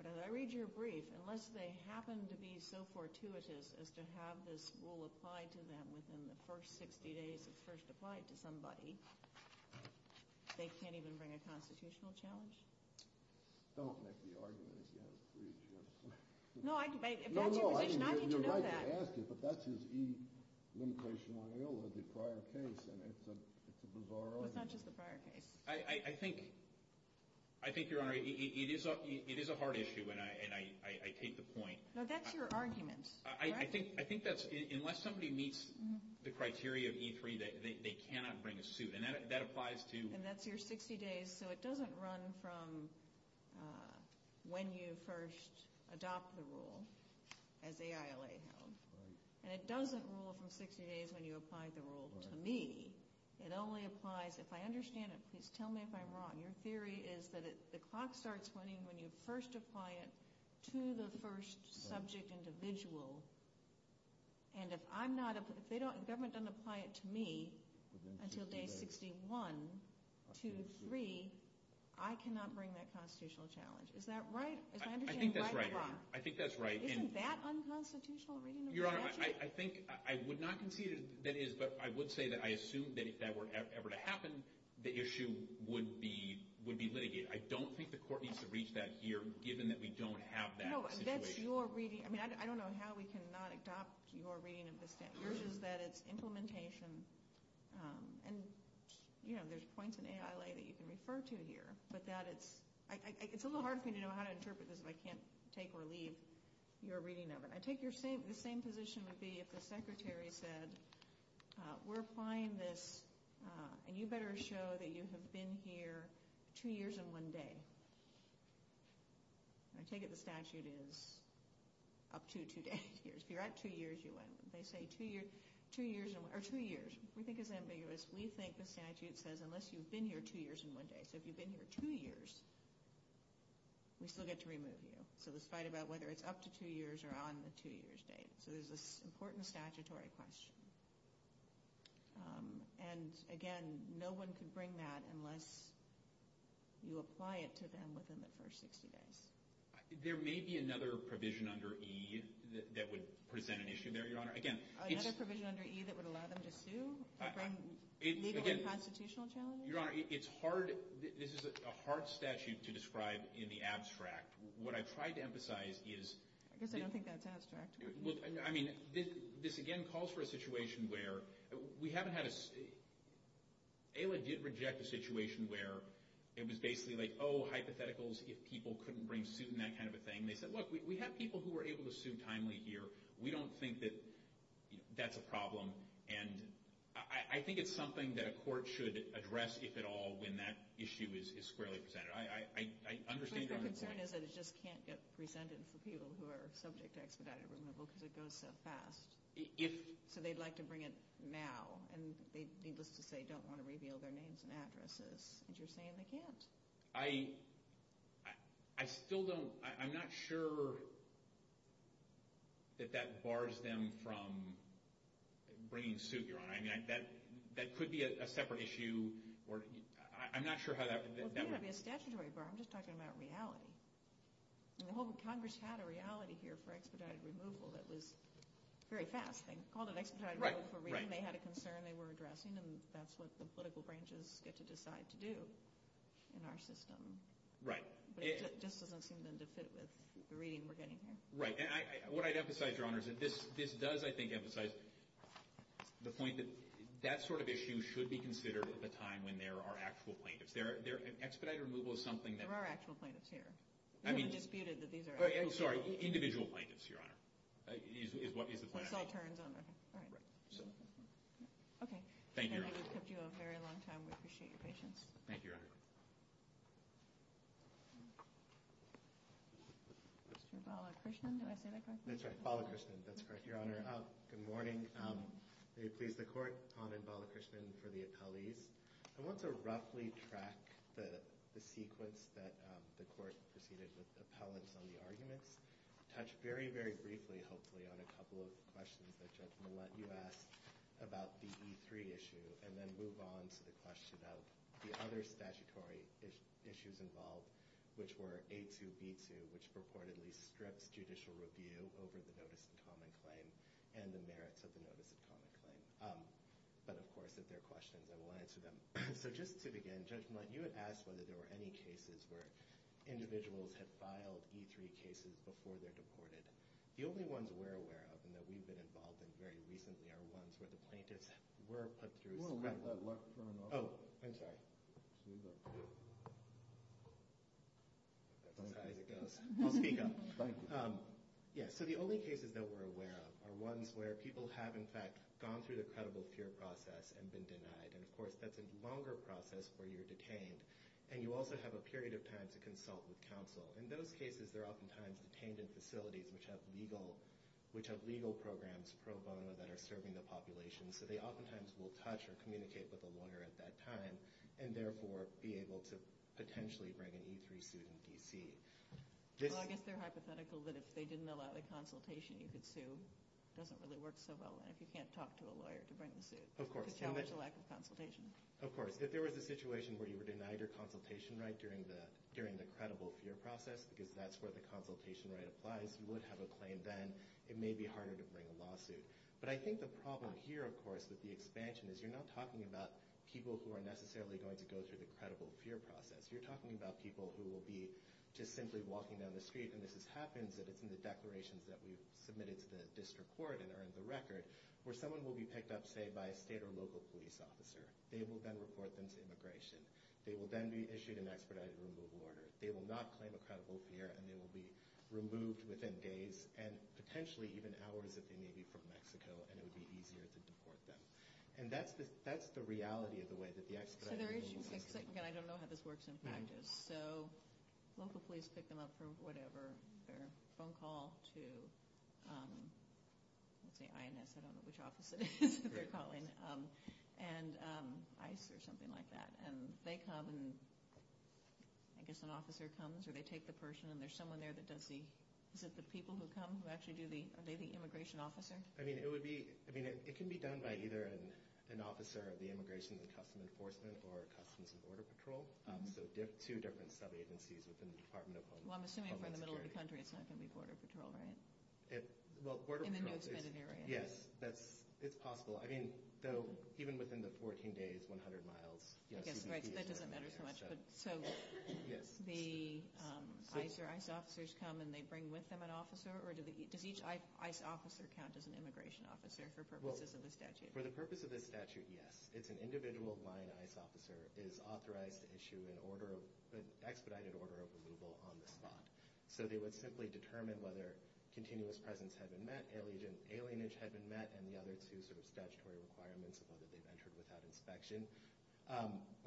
But as I read your brief, unless they happen to be so fortuitous as to have this rule applied to them within the first 60 days it's first applied to somebody, they can't even bring a constitutional challenge? Don't make the argument as if you have a clear choice. No, I debate it. No, no. You're right to ask it, but that's just E, Limitation of Loyalty, prior case, and it's a bizarre argument. It's not just the prior case. I think, Your Honor, it is a hard issue, and I take the point. No, that's your argument. I think that unless somebody meets the criteria of E3, they cannot bring a suit. And that applies to— And that's your 60 days. So it doesn't run from when you first adopt the rule, as AILA held. And it doesn't rule from 60 days when you apply the rule to me. It only applies—if I understand it, please tell me if I'm wrong. Your theory is that the clock starts running when you first apply it to the first subject individual. And if I'm not—if the government doesn't apply it to me until day 61, 2 and 3, I cannot bring that constitutional challenge. Is that right? I think that's right, Your Honor. Isn't that unconstitutional reading of the statute? Your Honor, I think—I would not concede that it is, but I would say that I assume that if that were ever to happen, the issue would be litigated. I don't think the court needs to reach that here, given that we don't have that. No, that's your reading. I mean, I don't know how we cannot adopt your reading of the statute. Yours is that it's implementation, and, you know, there's points in AILA that you can refer to here. But that is—it's a little hard for me to know how to interpret this if I can't take or leave your reading of it. I take your—the same position would be if the secretary said, we're applying this, and you better show that you have been here two years and one day. I take it the statute is up to two days. If you're at two years, you're—they say two years—or two years. We think it's ambiguous. We think the statute says unless you've been here two years and one day. So if you've been here two years, we still get to remove you. So decide about whether it's up to two years or on the two-years date. So there's this important statutory question. And, again, no one can bring that unless you apply it to them within the first two days. There may be another provision under E that would present an issue there, Your Honor. Again, it's— Another provision under E that would allow them to sue? Maybe a constitutional challenge? Your Honor, it's hard—this is a hard statute to describe in the abstract. What I tried to emphasize is— I don't think that's abstract. Look, I mean, this, again, calls for a situation where we haven't had a— AILA did reject a situation where it was basically like, oh, hypotheticals, if people couldn't bring suit and that kind of a thing. They said, look, we have people who are able to sue timely here. We don't think that that's a problem. And I think it's something that a court should address, if at all, when that issue is squarely presented. But the concern is that it just can't get presented for people who are subject to expedited removal because it goes so fast. So they'd like to bring it now. And they needless to say don't want to reveal their names and addresses. And you're saying they can't. I still don't—I'm not sure that that bars them from bringing suit, Your Honor. I mean, that could be a separate issue. I'm not sure how that would— It's not going to be a statutory bar. I'm just talking about reality. Congress had a reality here for expedited removal that was very fast. They called it expedited removal for a reason. They had a concern they were addressing, and that's what the political branches get to decide to do in our system. Right. Just enough for them to sit with the reading we're getting here. Right. What I emphasize, Your Honor, is that this does, I think, emphasize the point that that sort of issue should be considered at the time when there are actual plaintiffs. An expedited removal is something that— There are actual plaintiffs here. I mean— It's been disputed that these are actual plaintiffs. I'm sorry. Individual plaintiffs, Your Honor, is what we— It's all turned over. Right. Okay. Thank you, Your Honor. Thank you. It's kept you a very long time. We appreciate your patience. Thank you, Your Honor. Bala Krishnan. Do I say that correctly? That's right. Bala Krishnan. That's correct, Your Honor. Good morning. May it please the Court. I'm Bala Krishnan for the Attali's. I want to roughly track the sequence that the Court proceeded with appellants on the arguments, touch very, very briefly, hopefully, on a couple of the questions that I'm going to let you ask about the E-3 issue, and then move on to the question of the other statutory issues involved, which were A-2, B-2, which purportedly strips judicial review over the notice of common claim and the merits of the notice of common claim. But, of course, if there are questions, I will answer them. So just to begin, Judge Mott, you had asked whether there were any cases where individuals had filed E-3 cases before they were deported. The only ones we're aware of and that we've been involved in very recently are ones where the plaintiffs were put through. Do you want to read that last one? Oh, I'm sorry. Excuse us. Don't hide it, guys. Speak up. Yes, so the only cases that we're aware of are ones where people have, in fact, gone through the credible peer process and been denied. And, of course, that's a longer process where you're detained, and you also have a period of time to consult with counsel. In those cases, they're oftentimes detained in facilities which have legal programs pro bono that are serving the population, so they oftentimes will touch or communicate with the lawyer at that time and, therefore, be able to potentially bring an E-3 student D.C. So I guess they're hypothetical that if they didn't allow the consultation, you could sue. It doesn't really work so well then. You can't talk to a lawyer to bring the suit. Of course. Because there was a lack of consultation. Of course. If there was a situation where you were denied your consultation right during the credible peer process because that's where the consultation right applies, you wouldn't have a claim then. It may be harder to bring a lawsuit. But I think the problem here, of course, with the expansion is you're not talking about people who are necessarily going to go through the credible peer process. You're talking about people who will be just simply walking down the street, and this has happened that it's in the declarations that we've submitted to the district court and earned the record, where someone will be picked up, say, by a state or local police officer. They will then report them to immigration. They will then be issued an expedited removal order. They will not claim a credible peer, and they will be removed within days and potentially even hours if they may be from Mexico, and it would be easier to deport them. And that's the reality of the way that the expedited removal order works. I don't know how this works in practice. So local police pick them up from whatever, their phone call to, let's say INS, I don't know which office they're calling, ICE or something like that, and they come and I guess an officer comes or they take the person, and there's someone there that does the people who come who actually do the immigration officer? I mean, it can be done by either an officer of the Immigration and Customs Enforcement or Customs and Border Patrol, so two different sub-agencies within the Department of Homeland Security. Well, I'm assuming for the middle of the country it's not going to be Border Patrol, right? Well, Border Patrol is, yes, it's possible. I mean, though, even within the 14 days, 100 miles. That doesn't matter so much. So the ICE or ICE officers come and they bring with them an officer, or does each ICE officer count as an immigration officer for purposes of the statute? Well, for the purposes of the statute, yes. It's an individual line ICE officer is authorized to issue an order, an expedited order of removal on the spot. So they would simply determine whether continuous presence had been met, alienage had been met, and the other two sort of statutory requirements, whether they entered without inspection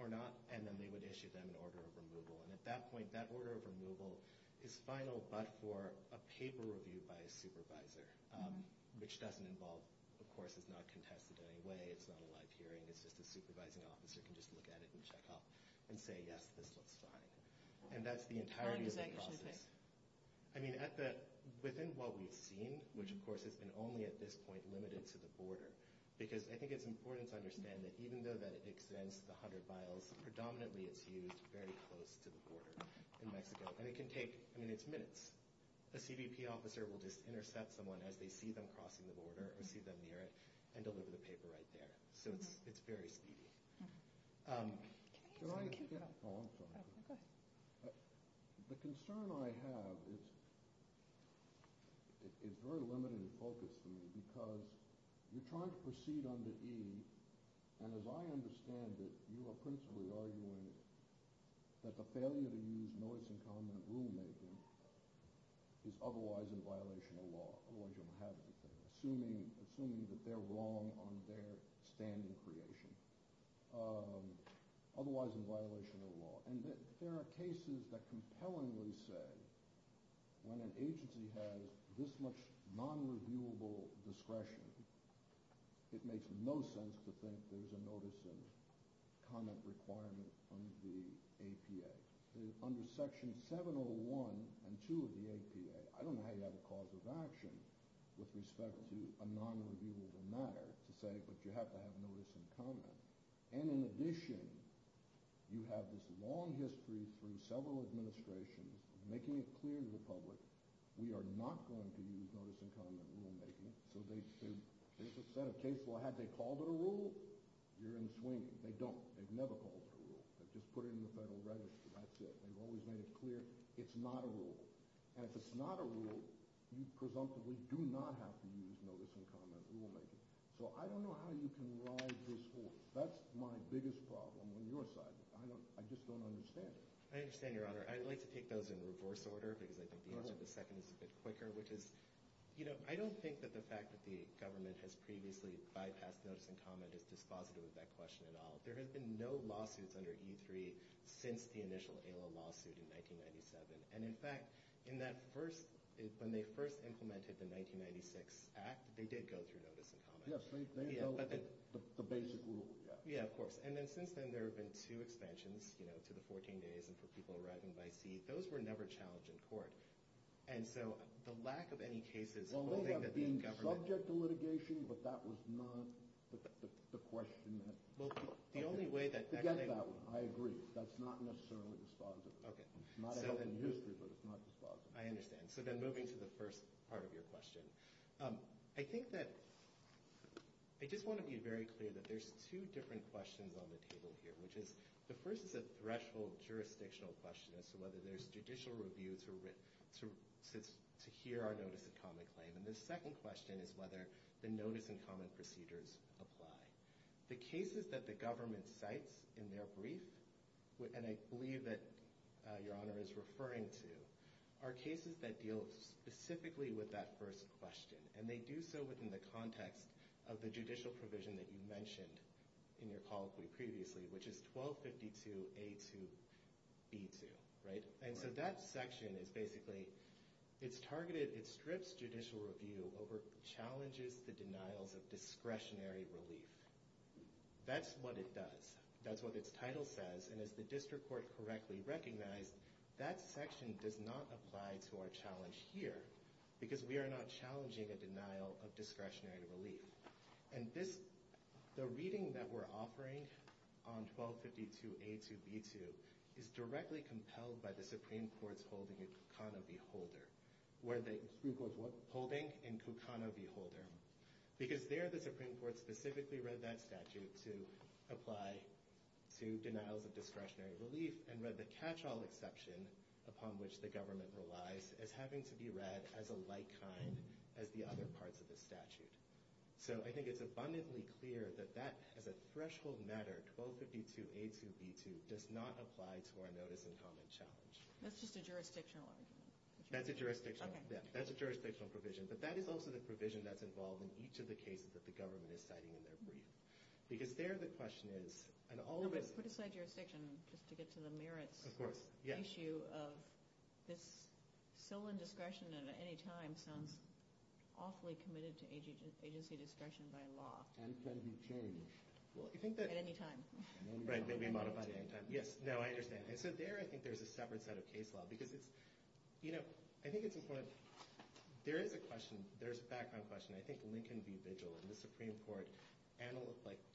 or not, and then they would issue them an order of removal. And at that point, that order of removal is final but for a paper review by a supervisor, which doesn't involve, of course, it's not contested in any way. It's not a live hearing. It's just a supervising officer can just look at it and check off and say, yes, this looks fine. And that's the entirety of the process. I mean, within what we've seen, which, of course, has been only at this point limited to the border, because I think it's important to understand that even though that extends to 100 miles, predominantly it's used very close to the border. And it can take, I mean, it's minutes. The CBP officer will just intercept someone as they see them crossing the border or see them near it and deliver the paper right there. So it's very speedy. Can I just add a follow-up on that? Go ahead. The concern I have is it's very limiting the focus for me because you're trying to proceed on the E, and as I understand it, you are principally arguing that the failure to use noise-incoming rulemaking is otherwise in violation of law. I don't want you to have anything. Assuming that they're wrong on their standing creation. Otherwise in violation of law. And there are cases that compellingly say when an agency has this much non-reviewable discretion, it makes no sense to think there's a notice of comment requirement from the APA. Under Section 701 and 2 of the APA, I don't know how you have a cause of action with respect to a non-reviewable matter to say, but you have to have notice and comment. And in addition, you have this long history through several administrations making it clear to the public, we are not going to use notice and comment rulemaking. So there's a set of cases where had they called it a rule, you're in the swing. They don't. They've never called it a rule. They've just put it in the federal registry. That's it. They've always made it clear it's not a rule. If it's not a rule, you presumably do not have to use notice and comment rulemaking. So I don't know how you can rise this horse. That's my biggest problem on your side. I just don't understand it. I understand, Your Honor. I'd like to take those in reverse order because I think the answer to the second is a bit quicker, which is I don't think that the fact that the government has previously bypassed notice and comment is dispositive of that question at all. There have been no lawsuits under E3 since the initial AILA lawsuit in 1997. And, in fact, when they first implemented the 1996 Act, they did go through notice and comment. Yes. The basis rule. Yeah, of course. And then since then there have been two expansions, you know, to the 14 days and for people arriving by seat. Those were never challenged in court. And so the lack of any cases is something that these governments need. Well, those have been subject to litigation, but that was not the question. Well, the only way that I can think of. I agree. That's not necessarily dispositive. Okay. It's not in history, but it's not dispositive. I understand. So then moving to the first part of your question, I think that I just want to be very clear that there's two different questions on the table here, which is the first is a threshold jurisdictional question as to whether there's judicial review to hear our notice and comment claim. And the second question is whether the notice and comment procedures apply. The cases that the government cites in their brief, and I believe that Your Honor is referring to, are cases that deal specifically with that first question, and they do so within the context of the judicial provision that you mentioned in your policy previously, which is 1252A2B2, right? And so that section is basically it's targeted, it strips judicial review over challenges to denials of discretionary relief. That's what it does. That's what its title says. And as the district court correctly recognized, that section does not apply to our challenge here because we are not challenging a denial of discretionary relief. And the reading that we're offering on 1252A2B2 is directly compelled by the Supreme Court's holding in Cucano v. Holder, where the Supreme Court's holding in Cucano v. Holder, because there the Supreme Court specifically read that statute to apply to denials of discretionary relief and read the catch-all exception upon which the government relies as having to be read as a like kind as the other parts of the statute. So I think it's abundantly clear that that as a threshold matter, 1252A2B2, does not apply to our notice and comment challenge. That's just a jurisdictional item. That's a jurisdictional provision. But that is also the provision that's involved in each of the cases that the government is citing in their brief. Because there the question is, and all of it- Put aside jurisdiction, just to get to the merits. Of course. The issue of this fill-in discretion at any time sounds awfully committed to agency discretion by law. And can be changed. Well, I think that- At any time. Right, they can be modified at any time. Yes, no, I understand. So there I think there's a separate set of case law. I think there is a question, there's a background question. I think Lincoln v. Vigil in the Supreme Court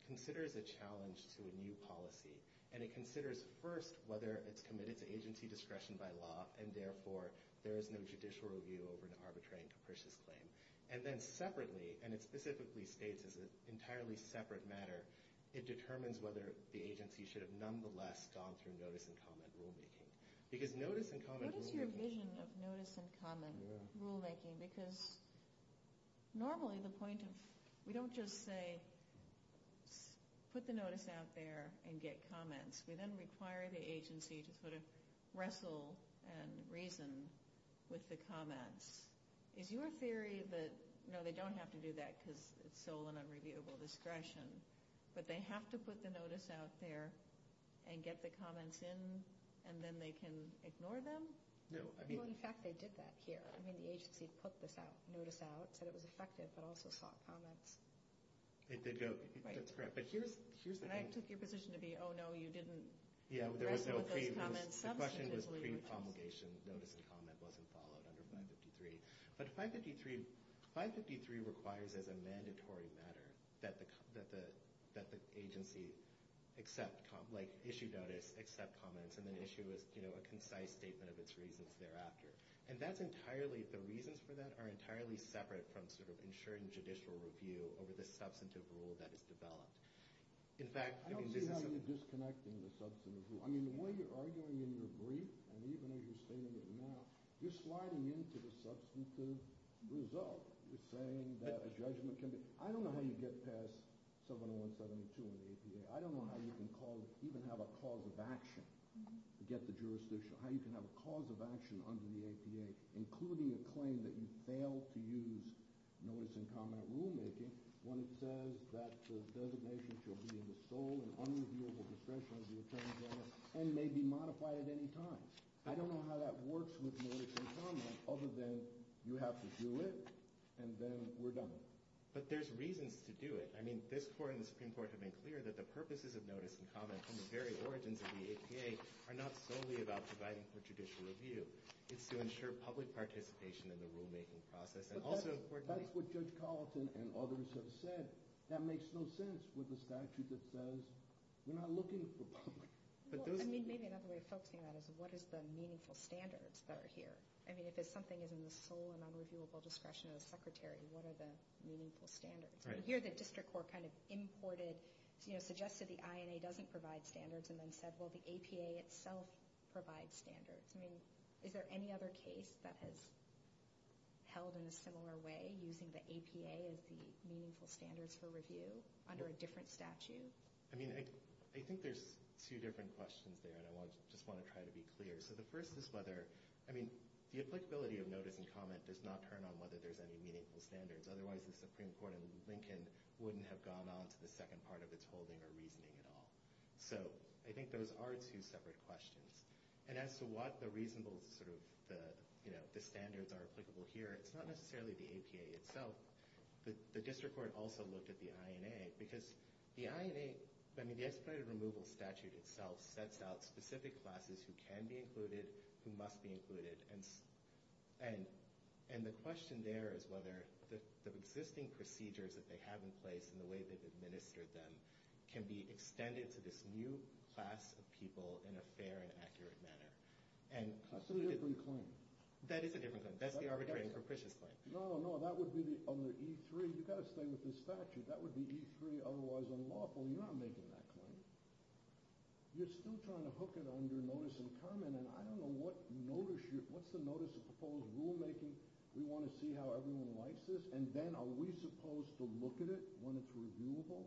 considers a challenge to a new policy. And it considers first whether it's committed to agency discretion by law, and therefore there is no judicial review over an arbitrating capricious claim. And then separately, and it specifically states as an entirely separate matter, it determines whether the agency should have nonetheless gone through notice and comment rulemaking. Because notice and comment- What is your vision of notice and comment rulemaking? Because normally the point is, we don't just say, put the notice out there and get comments. We then require the agency to sort of wrestle and reason with the comments. Is your theory that, no, they don't have to do that because it's still an unreviewable discretion. But they have to put the notice out there and get the comments in, and then they can ignore them? No, I mean- No, in fact, they did that here. I mean, the agency put this out, notice out, said it was effective, but also sought comments. It did go- Right. That's correct. But here's the thing- I took your position to be, oh, no, you didn't wrestle with the comments. Yeah, there was no case- Some cases- The question was pre-accommodation. Notice and comment wasn't followed under 553. But 553 requires as a mandatory matter that the agency accept, like, issue notice, accept comments, and then issue a concise statement of its reasons thereafter. And that's entirely- the reasons for that are entirely separate from sort of insured and judicial review over the substantive rule that is developed. In fact- I don't see how you're disconnecting the substantive rule. I mean, the way you're arguing in your brief, and even as you're saying it now, you're sliding into the substantive result. You're saying that a judgment can be- I don't know how you get past 7172 in the APA. I don't know how you can call- even have a cause of action to get the jurisdiction, how you can have a cause of action under the APA, including a claim that you fail to use notice and comment rulemaking when it says that the designation should be in the sole and unreviewable discretion of the attorney general, and may be modified at any time. I don't know how that works with notice and comment, other than you have to do it, and then we're done. But there's reasons to do it. I mean, this Court and the Supreme Court have made clear that the purposes of notice and comment from the very origins of the APA are not solely about providing for judicial review. It's to ensure public participation in the rulemaking process, and also- That's what Judge Collison and others have said. That makes no sense with this statute that says we're not looking for- Well, I mean, maybe another way of focusing on it is what is the meaningful standards that are here? I mean, if there's something in the sole and unreviewable discretion of the Secretary, what are the meaningful standards? Here the District Court kind of imported, you know, suggested the INA doesn't provide standards, and then said, well, the APA itself provides standards. I mean, is there any other case that has held in a similar way, using the APA as the meaningful standards for review under a different statute? I mean, I think there's two different questions there, and I just want to try to be clear. So the first is whether- I mean, the applicability of notice and comment does not turn on whether there's any meaningful standards. Otherwise, the Supreme Court in Lincoln wouldn't have gone on to the second part of its holding or reasoning at all. So I think those are two separate questions. And as to what the reasonable sort of, you know, the standards are applicable here, it's not necessarily the APA itself. The District Court also looked at the INA, because the INA, I mean, the Executive Removal Statute itself sets out specific classes who can be included, who must be included. And the question there is whether the existing procedures that they have in place and the way they've administered them can be extended to this new class of people in a fair and accurate manner. That's a different claim. That is a different claim. That's the arbitrary and sufficient claim. No, no, that would be on the E3. You've got to stay with this statute. That would be E3 otherwise unlawful. You're not making that claim. You're still trying to hook it under notice and comment, and I don't know what notice you're- what's the notice of proposed rulemaking? We want to see how everyone likes this, and then are we supposed to look at it when it's reviewable?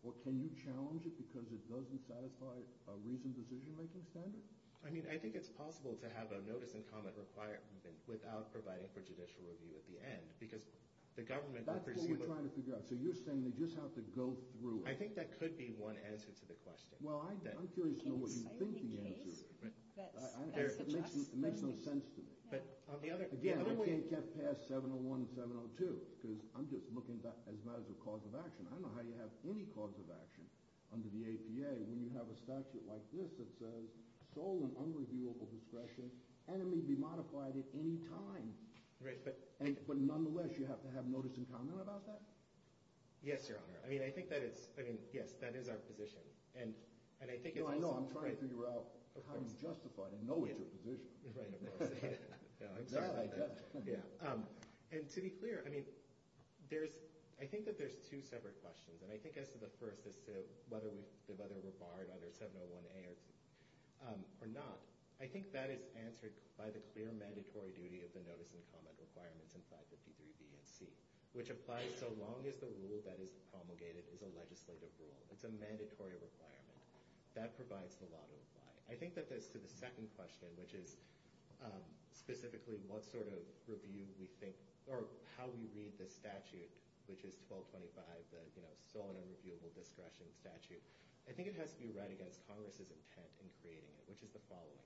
Or can you challenge it because it doesn't satisfy a reasoned decision-making standard? I mean, I think it's possible to have a notice and comment requirement without providing for judicial review at the end, because the government- That's what we're trying to figure out. So you're saying they just have to go through- I think that could be one answer to the question. Well, I'm curious to know what you think the answer is. It makes no sense to me. Again, I can't get past 701 and 702, because I'm just looking at that as a cause of action. I don't know how you have any cause of action under the APA when you have a statute like this that says, sole and unreviewable discretion, and it may be modified at any time. Right, but- But nonetheless, you have to have notice and comment about that? Yes, Your Honor. I mean, I think that is- I mean, yes, that is our position, and I think- Well, I know. I'm trying to figure out how you justify it. I know it's your position. I'm sorry about that. And to be clear, I mean, there's- I think that there's two separate questions, and I think as to the first, as to whether we're barred under 701A or not, I think that is answered by the clear mandatory duty of the notice and comment requirements in 553B and C, which applies so long as the rule that is promulgated is a legislative rule. It's a mandatory requirement. That provides the law to apply. I think that as to the second question, which is specifically what sort of review we think- or how we read this statute, which is 1225, the sole and unreviewable discretion statute, I think it has to be read against Congress's intent in creating it, which is the following.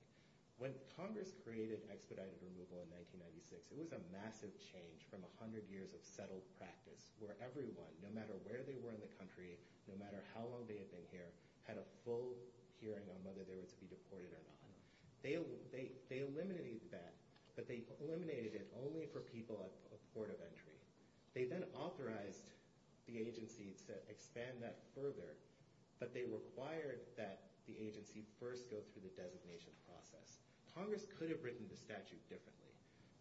When Congress created expedited removal in 1996, it was a massive change from 100 years of settled practice where everyone, no matter where they were in the country, no matter how long they had been here, had a full hearing on whether they were to be deported or not. They eliminated that, but they eliminated it only for people at the port of entry. They then authorized the agency to expand that further, but they required that the agency first go through the designation process. Congress could have written the statute differently.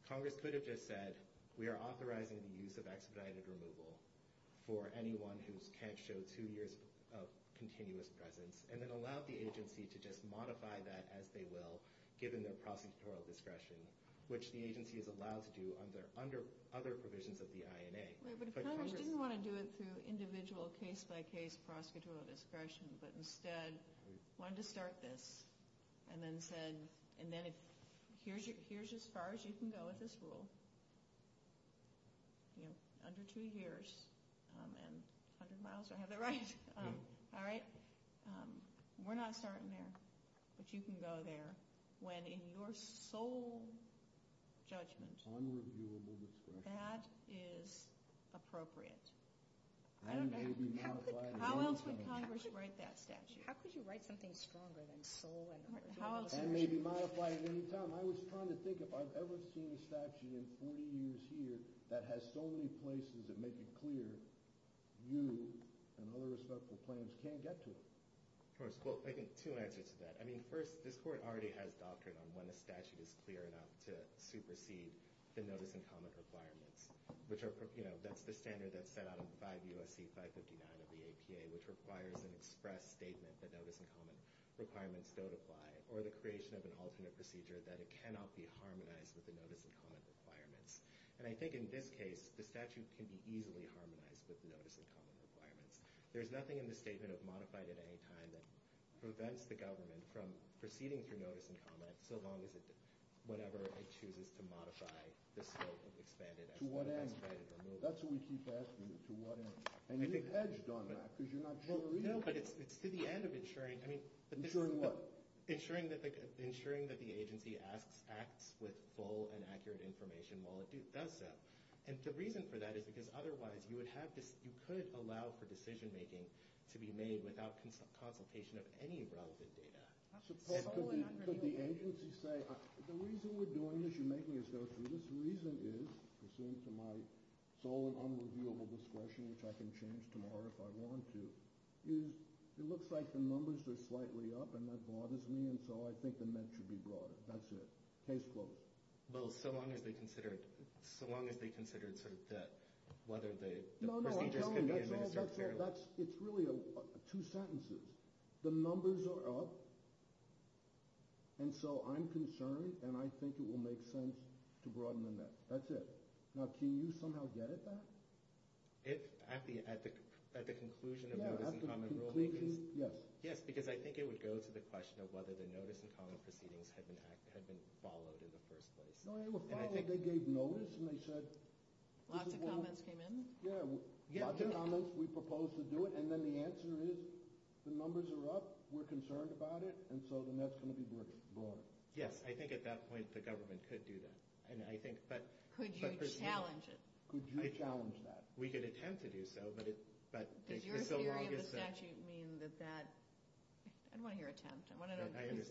Congress could have just said, we are authorizing the use of expedited removal for anyone who can't show two years of continuous presence, and then allowed the agency to just modify that as they will, given their prosecutorial discretion, which the agency is allowed to do under other provisions of the INA. Congress didn't want to do it through individual case-by-case prosecutorial discretion, but instead wanted to start this and then said, here's as far as you can go with this rule. Under two years, and 100 miles, I have the right? All right. We're not certain there, but you can go there when, in your sole judgment, that is appropriate. I don't know. How else would Congress write that statute? How could you write something stronger than sole? And maybe modify it any time. I was trying to think if I've ever seen a statute in 40 years here that has so many places that make it clear you and other respectful plaintiffs can't get to it. Of course. Well, I think two answers to that. I mean, first, this Court already has doctrine on when the statute is clear enough to supersede the notice-in-common requirements, which are, you know, that's the standard that's set out in 5 U.S.C. 559 of the APA, which requires an express statement that notice-in-common requirements dotify, or the creation of an alternate procedure that it cannot be harmonized with the notice-in-common requirements. And I think in this case, the statute can be easily harmonized with the notice-in-common requirements. There's nothing in the statement of modified at any time that prevents the government from proceeding through notice-in-common so long as it's whatever it chooses to modify the scope of the statute. To what end? That's what we keep asking you, to what end? And you get edged on that because you're not telling the reason. No, but it's to the end of ensuring. Ensuring what? Ensuring that the agency acts with full and accurate information while it does so. And the reason for that is because otherwise you would have to allow for decision-making to be made without consultation of any relevant data. Could the agency say, the reason we're doing this, you're making us go through this, the reason is, proceeding from my sole, unreviewable discretion, which I can change tomorrow if I want to, is it looks like the numbers are slightly up and that bothers me and so I think the MET should be broader. That's it. Case closed. But so long as they consider it sort of debt whether they No, no, I'm telling you, it's really two sentences. The numbers are up and so I'm concerned and I think it will make sense to broaden the MET. That's it. Now, can you somehow get at that? At the conclusion of the Notice and Comments Proceedings? Yes. Yes, because I think it would go to the question of whether the Notice and Comments Proceedings had been followed in the first place. I think they gave notice and they said Lots of comments came in? Yeah, we proposed to do it and then the answer is, the numbers are up, we're concerned about it, and so the MET's going to be broader. Yes, I think at that point the government could do that. Could you challenge it? Could you challenge that? We could attempt to do so, but it's still wrong. Does your view of the statute mean that that I don't want to hear attempt.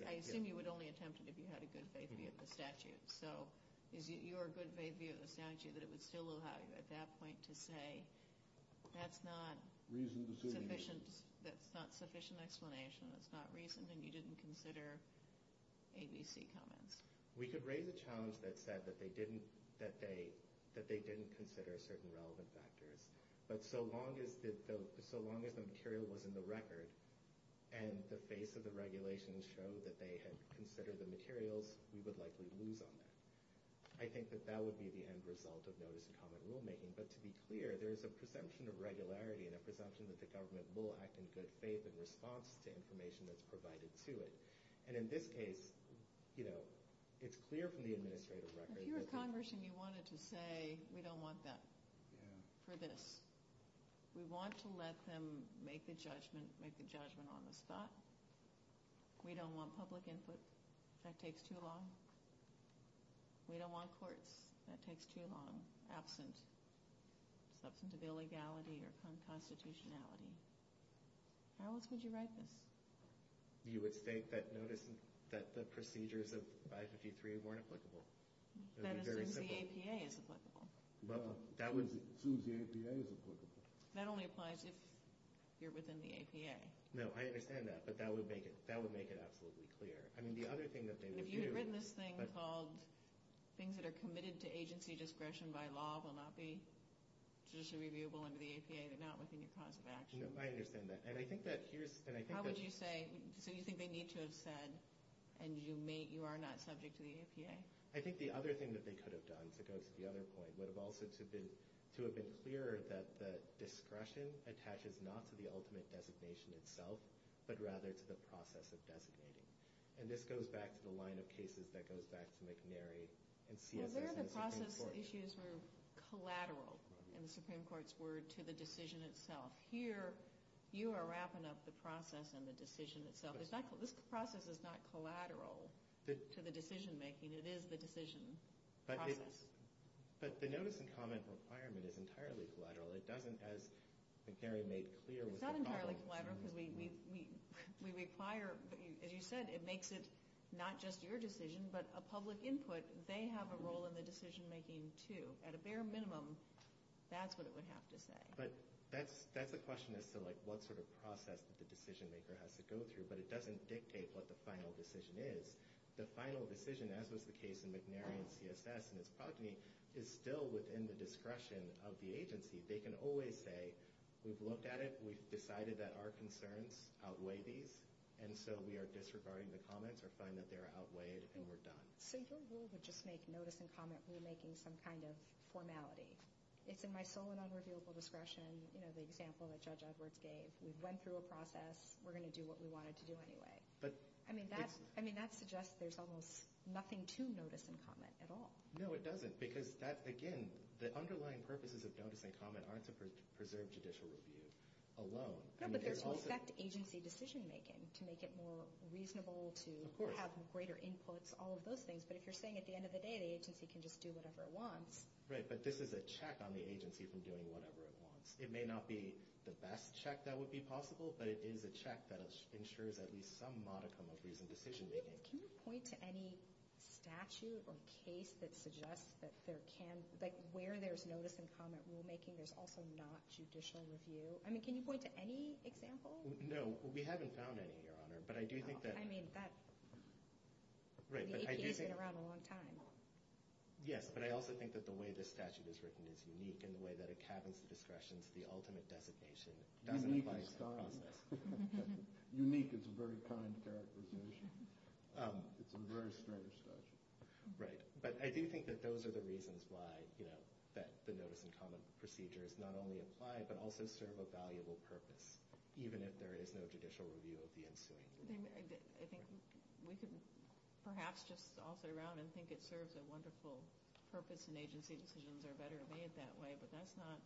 I assume you would only attempt it if you had a good faith view of the statute. So if you're a good faith view of the statute, that it would still allow you at that point to say that's not sufficient explanation, that's not reason, and you didn't consider ABC comments. We could raise a challenge that said that they didn't consider certain relevant factors, but so long as the material was in the record and the face of the regulations showed that they had considered the materials, we would likely move on that. I think that that would be the end result of notice and comment rulemaking, but to be clear, there's a presumption of regularity and a presumption that the government will act in good faith in response to information that's provided to it. And in this case, it's clear from the administrative record that If you were a congressman and you wanted to say, we don't want that for this. We want to let them make the judgment on the spot. We don't want public input. That takes too long. We don't want courts. That takes too long. Absence. Absence of illegality or constitutionality. How else would you write this? You would think that the procedures of 523 weren't applicable. That is, the APA is applicable. Well, that would prove the APA is applicable. That only applies if you're within the APA. No, I understand that, but that would make it absolutely clear. I mean, the other thing that they would do is things that are committed to agency discretion by law will not be judicially reviewable under the APA. They're not looking at cost of action. I understand that. How would you say, so you think they need to have said, and you are not subject to the APA? I think the other thing that they could have done, to go to the other point, would have also been to have been clear that discretion attaches not to the ultimate designation itself, but rather to the process of designating. And this goes back to the line of cases that goes back to McNary. Is there a process where issues are collateral, in the Supreme Court's word, to the decision itself? Here, you are wrapping up the process and the decision itself. This process is not collateral to the decision-making. It is the decision process. But the notice and comment requirement is entirely collateral. It doesn't, as McNary made clear... It's not entirely collateral because we require, as you said, it makes it not just your decision, but a public input. They have a role in the decision-making too. At a bare minimum, that's what it would have to say. That's a question as to what sort of process the decision-maker has to go through, but it doesn't dictate what the final decision is. The final decision, as was the case in McNary and CSS and Ms. Crosney, is still within the discretion of the agency. They can always say, we've looked at it, we've decided that our concerns outweigh these, and so we are disregarding the comments or find that they are outweighed and we're done. So your rule would just make notice and comment mean making some kind of formality. If in my sole and unrevealable discretion, the example that Judge Edwards gave, we went through a process, we're going to do what we wanted to do anyway. I mean, that suggests there's almost nothing to notice and comment at all. No, it doesn't because, again, the underlying purposes of notice and comment aren't to preserve judicial review alone. But there's also fact agency decision-making. Can they get more reasonable to have greater input for all of those things? But if you're saying at the end of the day, the agency can just do whatever it wants. Right, but this is a check on the agency from doing whatever it wants. It may not be the best check that would be possible, but it is a check that ensures at least some modicum of reasoned decision-making. Can you point to any statute or case that suggests that where there's notice and comment rulemaking, there's also not judicial review? I mean, can you point to any example? No, we haven't found any, Your Honor. But I do think that— I mean, that's been around a long time. Yes, but I also think that the way this statute is written is unique in the way that it cabins the discretion to the ultimate designation. Unique is fine. Unique is a very fine, fair accusation. It's a very stern statute. Right, but I do think that those are the reasons why the notice and comment procedure is not only implied but also serve a valuable purpose, even if there is no judicial review of the incident. I think we could perhaps just alter it around and think it serves a wonderful purpose and agency decisions are better made that way, but that's not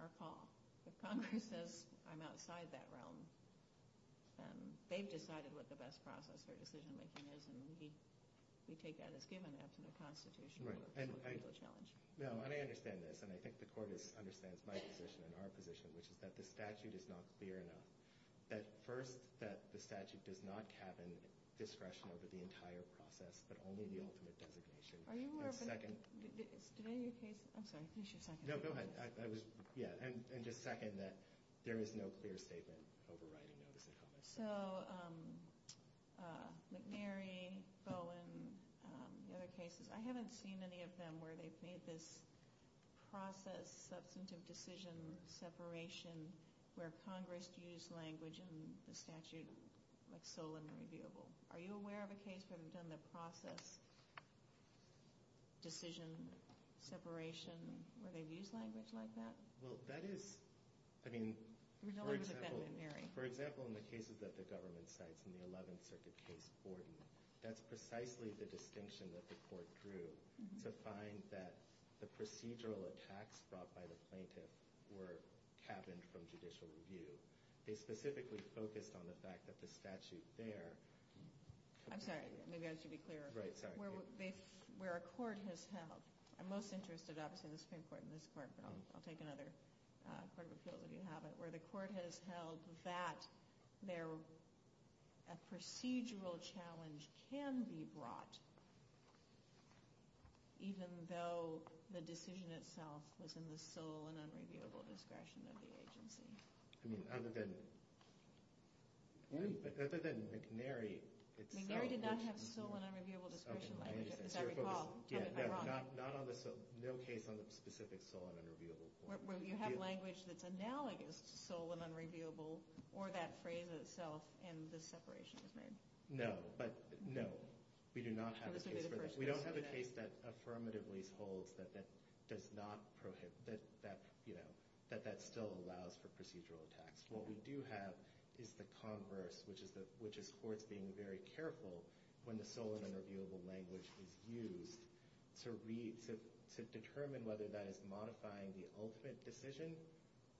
our call. If Congress says, I'm outside that realm, they've decided what the best process for decision-making is, and we take that as given, that's in the Constitution. Right, I— It's a real challenge. No, I understand this, and I think the Court understands my position and our position, which is that the statute is not clear enough. First, that the statute does not cabin discretion over the entire process but only the ultimate designation. Are you— Second— Did I make a case— I'm sorry, you should talk. No, go ahead. I was— Yeah, and just second that there is no clear statement over writing notice and comment. So McNary, Bowen, other cases, I haven't seen any of them where they've made this process of decision separation where Congress used language in the statute that's so unreviewable. Are you aware of a case where they've done the process decision separation where they've used language like that? Well, that is— I mean, for example— We're not looking at that, McNary. For example, in the cases of the government sites in the 11th Circuit case board, that's precisely the distinction that the Court drew to find that the procedural attacks brought by the plaintiffs were cabin from judicial review. They specifically focused on the fact that the statute there— I'm sorry, maybe I should be clearer. Right, sorry. Where a court has held— I'm most interested, obviously, in the Supreme Court in this courtroom. I'll take another quarter of a second if you have it. Where the court has held that a procedural challenge can be brought even though the decision itself was in the sole and unreviewable discretion of the agency. I mean, other than McNary— McNary did not have sole and unreviewable discretion. That's wrong. Not on the sole. No case on the specific sole and unreviewable. Where you have language that's analogous to sole and unreviewable, or that frame itself, and the separation is made. No. No. We do not have a case for that. We don't have a case that affirmatively holds that that still allows for procedural attacks. What we do have is the converse, which is courts being very careful when the sole and unreviewable language is used to determine whether that is modifying the ultimate decision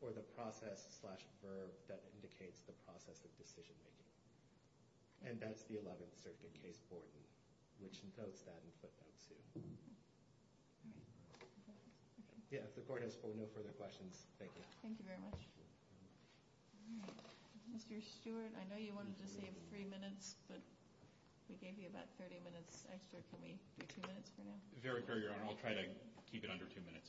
or the process slash verb that indicates the process of decision-making. And that's the 11th Circuit Case Board, which invokes that and says that, too. All right. Yes, the court has no further questions. Thank you. Thank you very much. All right. Mr. Stewart, I know you wanted to take three minutes, but we gave you about 30 minutes. I'm sure it will be 15 minutes from now. Very fair, Your Honor. I'll try to keep it under two minutes.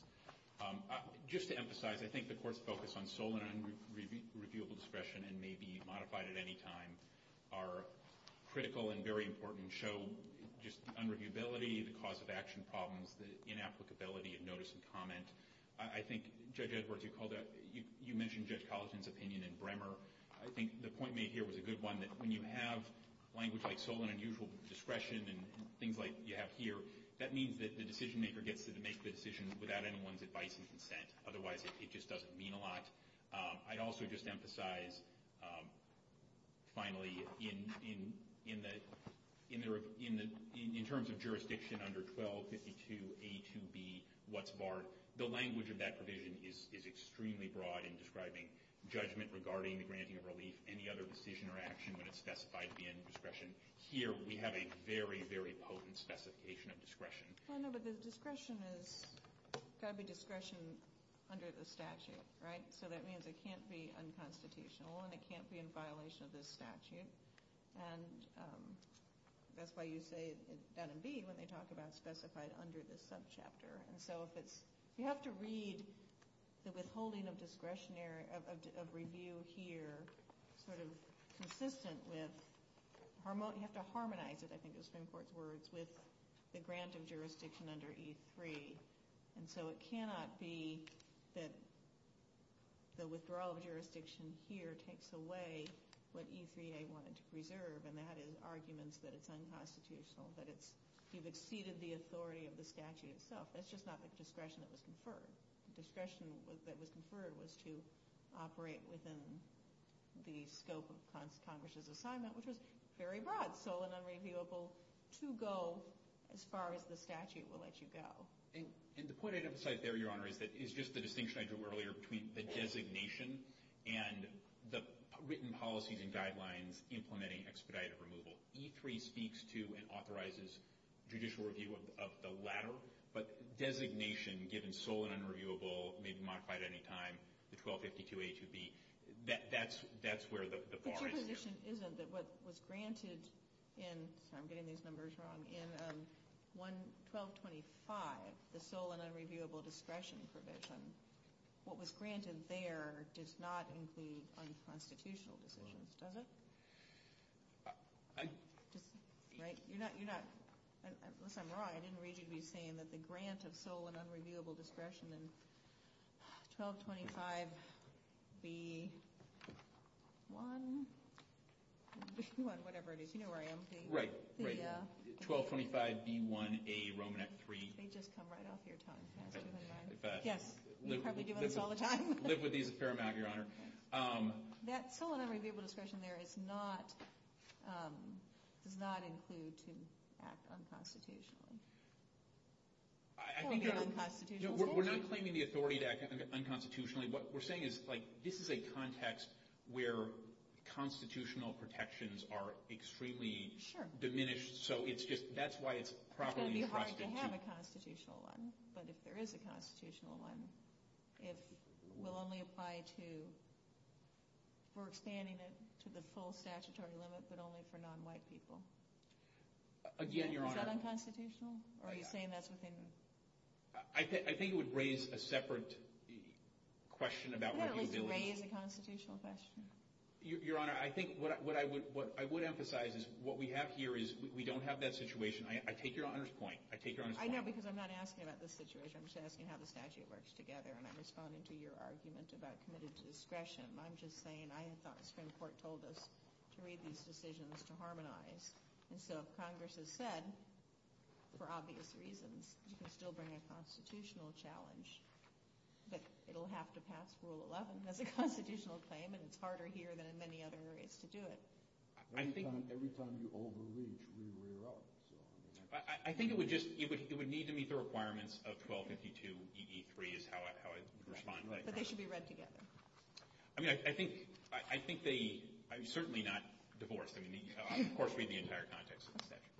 Just to emphasize, I think the court's focus on sole and unreviewable discretion and may be modified at any time are critical and very important. Show just unreviewability, the cause of action problems, the inapplicability of notice and comment. I think, Judge Edwards, you mentioned Judge Collison's opinion in Bremer. I think the point made here was a good one, that when you have language like sole and unusual discretion and things like you have here, that means that the decision-maker gets to make the decision without anyone's advice and consent. Otherwise, it just doesn't mean a lot. I'd also just emphasize, finally, in terms of jurisdiction under 1252A2B, what's barred, the language of that provision is extremely broad in describing judgment regarding the granting of relief, any other decision or action when it's specified to be under discretion. Here, we have a very, very potent specification of discretion. But the discretion is discretion under the statute, right? So that means it can't be unconstitutional and it can't be in violation of the statute. And that's why you say it's got to be, when they talk about specified, under the subchapter. You have to read the withholding of discretionary review here sort of consistent with, you have to harmonize it, I think is an important word, with the granting jurisdiction under E3. And so it cannot be that the withdrawal of jurisdiction here takes away what E3A wanted to preserve, and that is arguments that it's unconstitutional, that it's exceeded the authority of the statute itself. That's just not the discretion that was conferred. The discretion that was conferred was to operate within the scope of Congress's assignment, which is very broad, sole and unreviewable, to go as far as the statute will let you go. And the point I'd emphasize there, Your Honor, is just the distinction I drew earlier between the designation and the written policies and guidelines implementing expedited removal. E3 speaks to and authorizes judicial review of the latter, but designation given sole and unreviewable may be modified at any time. The 1252A should be. That's where the bar is. But your condition isn't that what was granted in, and I'm getting these numbers wrong, in 1225, the sole and unreviewable discretion provision, what was granted there does not include unconstitutional decisions, does it? You're not, you're not, if I'm wrong, I didn't read you to be saying that the grant of sole and unreviewable discretion in 1225B1, whatever it is. You know where I am seeing this. Right, right. Yeah. 1225B1A, Roman at 3. They just come right off your tongue. Jeff, you probably do this all the time. Live with these a fair amount, Your Honor. That sole and unreviewable discretion there is not, does not include to act unconstitutionally. We're not claiming the authority to act unconstitutionally. What we're saying is, like, this is a context where constitutional protections are extremely diminished. So it's just, that's why it's properly unconstitutional. It's going to be hard to have a constitutional one. But if there is a constitutional one, it will only apply to, for standing it to the full statutory limit, but only for nonwhite people. Again, Your Honor. Is that unconstitutional? Or are you saying that's the thing? I think it would raise a separate question about my capability. No, it would delay the constitutional question. Your Honor, I think what I would emphasize is, what we have here is we don't have that situation. I take Your Honor's point. I know because I'm not asking about the situation. I'm just asking how the statute works together, and I'm responding to your argument about committed to discretion. I'm just saying I thought the Supreme Court told us to read these decisions to harmonize. And so if Congress has said, for obvious reasons, you can still bring a constitutional challenge, but it will have to pass Rule 11 as a constitutional claim, and it's harder here than in many other areas to do it. I think every time you overreach, we rear up. I think it would need to meet the requirements of 1252 EE-3 is how I'd respond. But they should be read together. I mean, I think they are certainly not divorced. Of course, we have the entire context of the statute.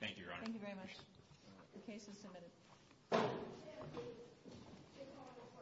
Thank you, Your Honor. Thank you very much. The case is submitted.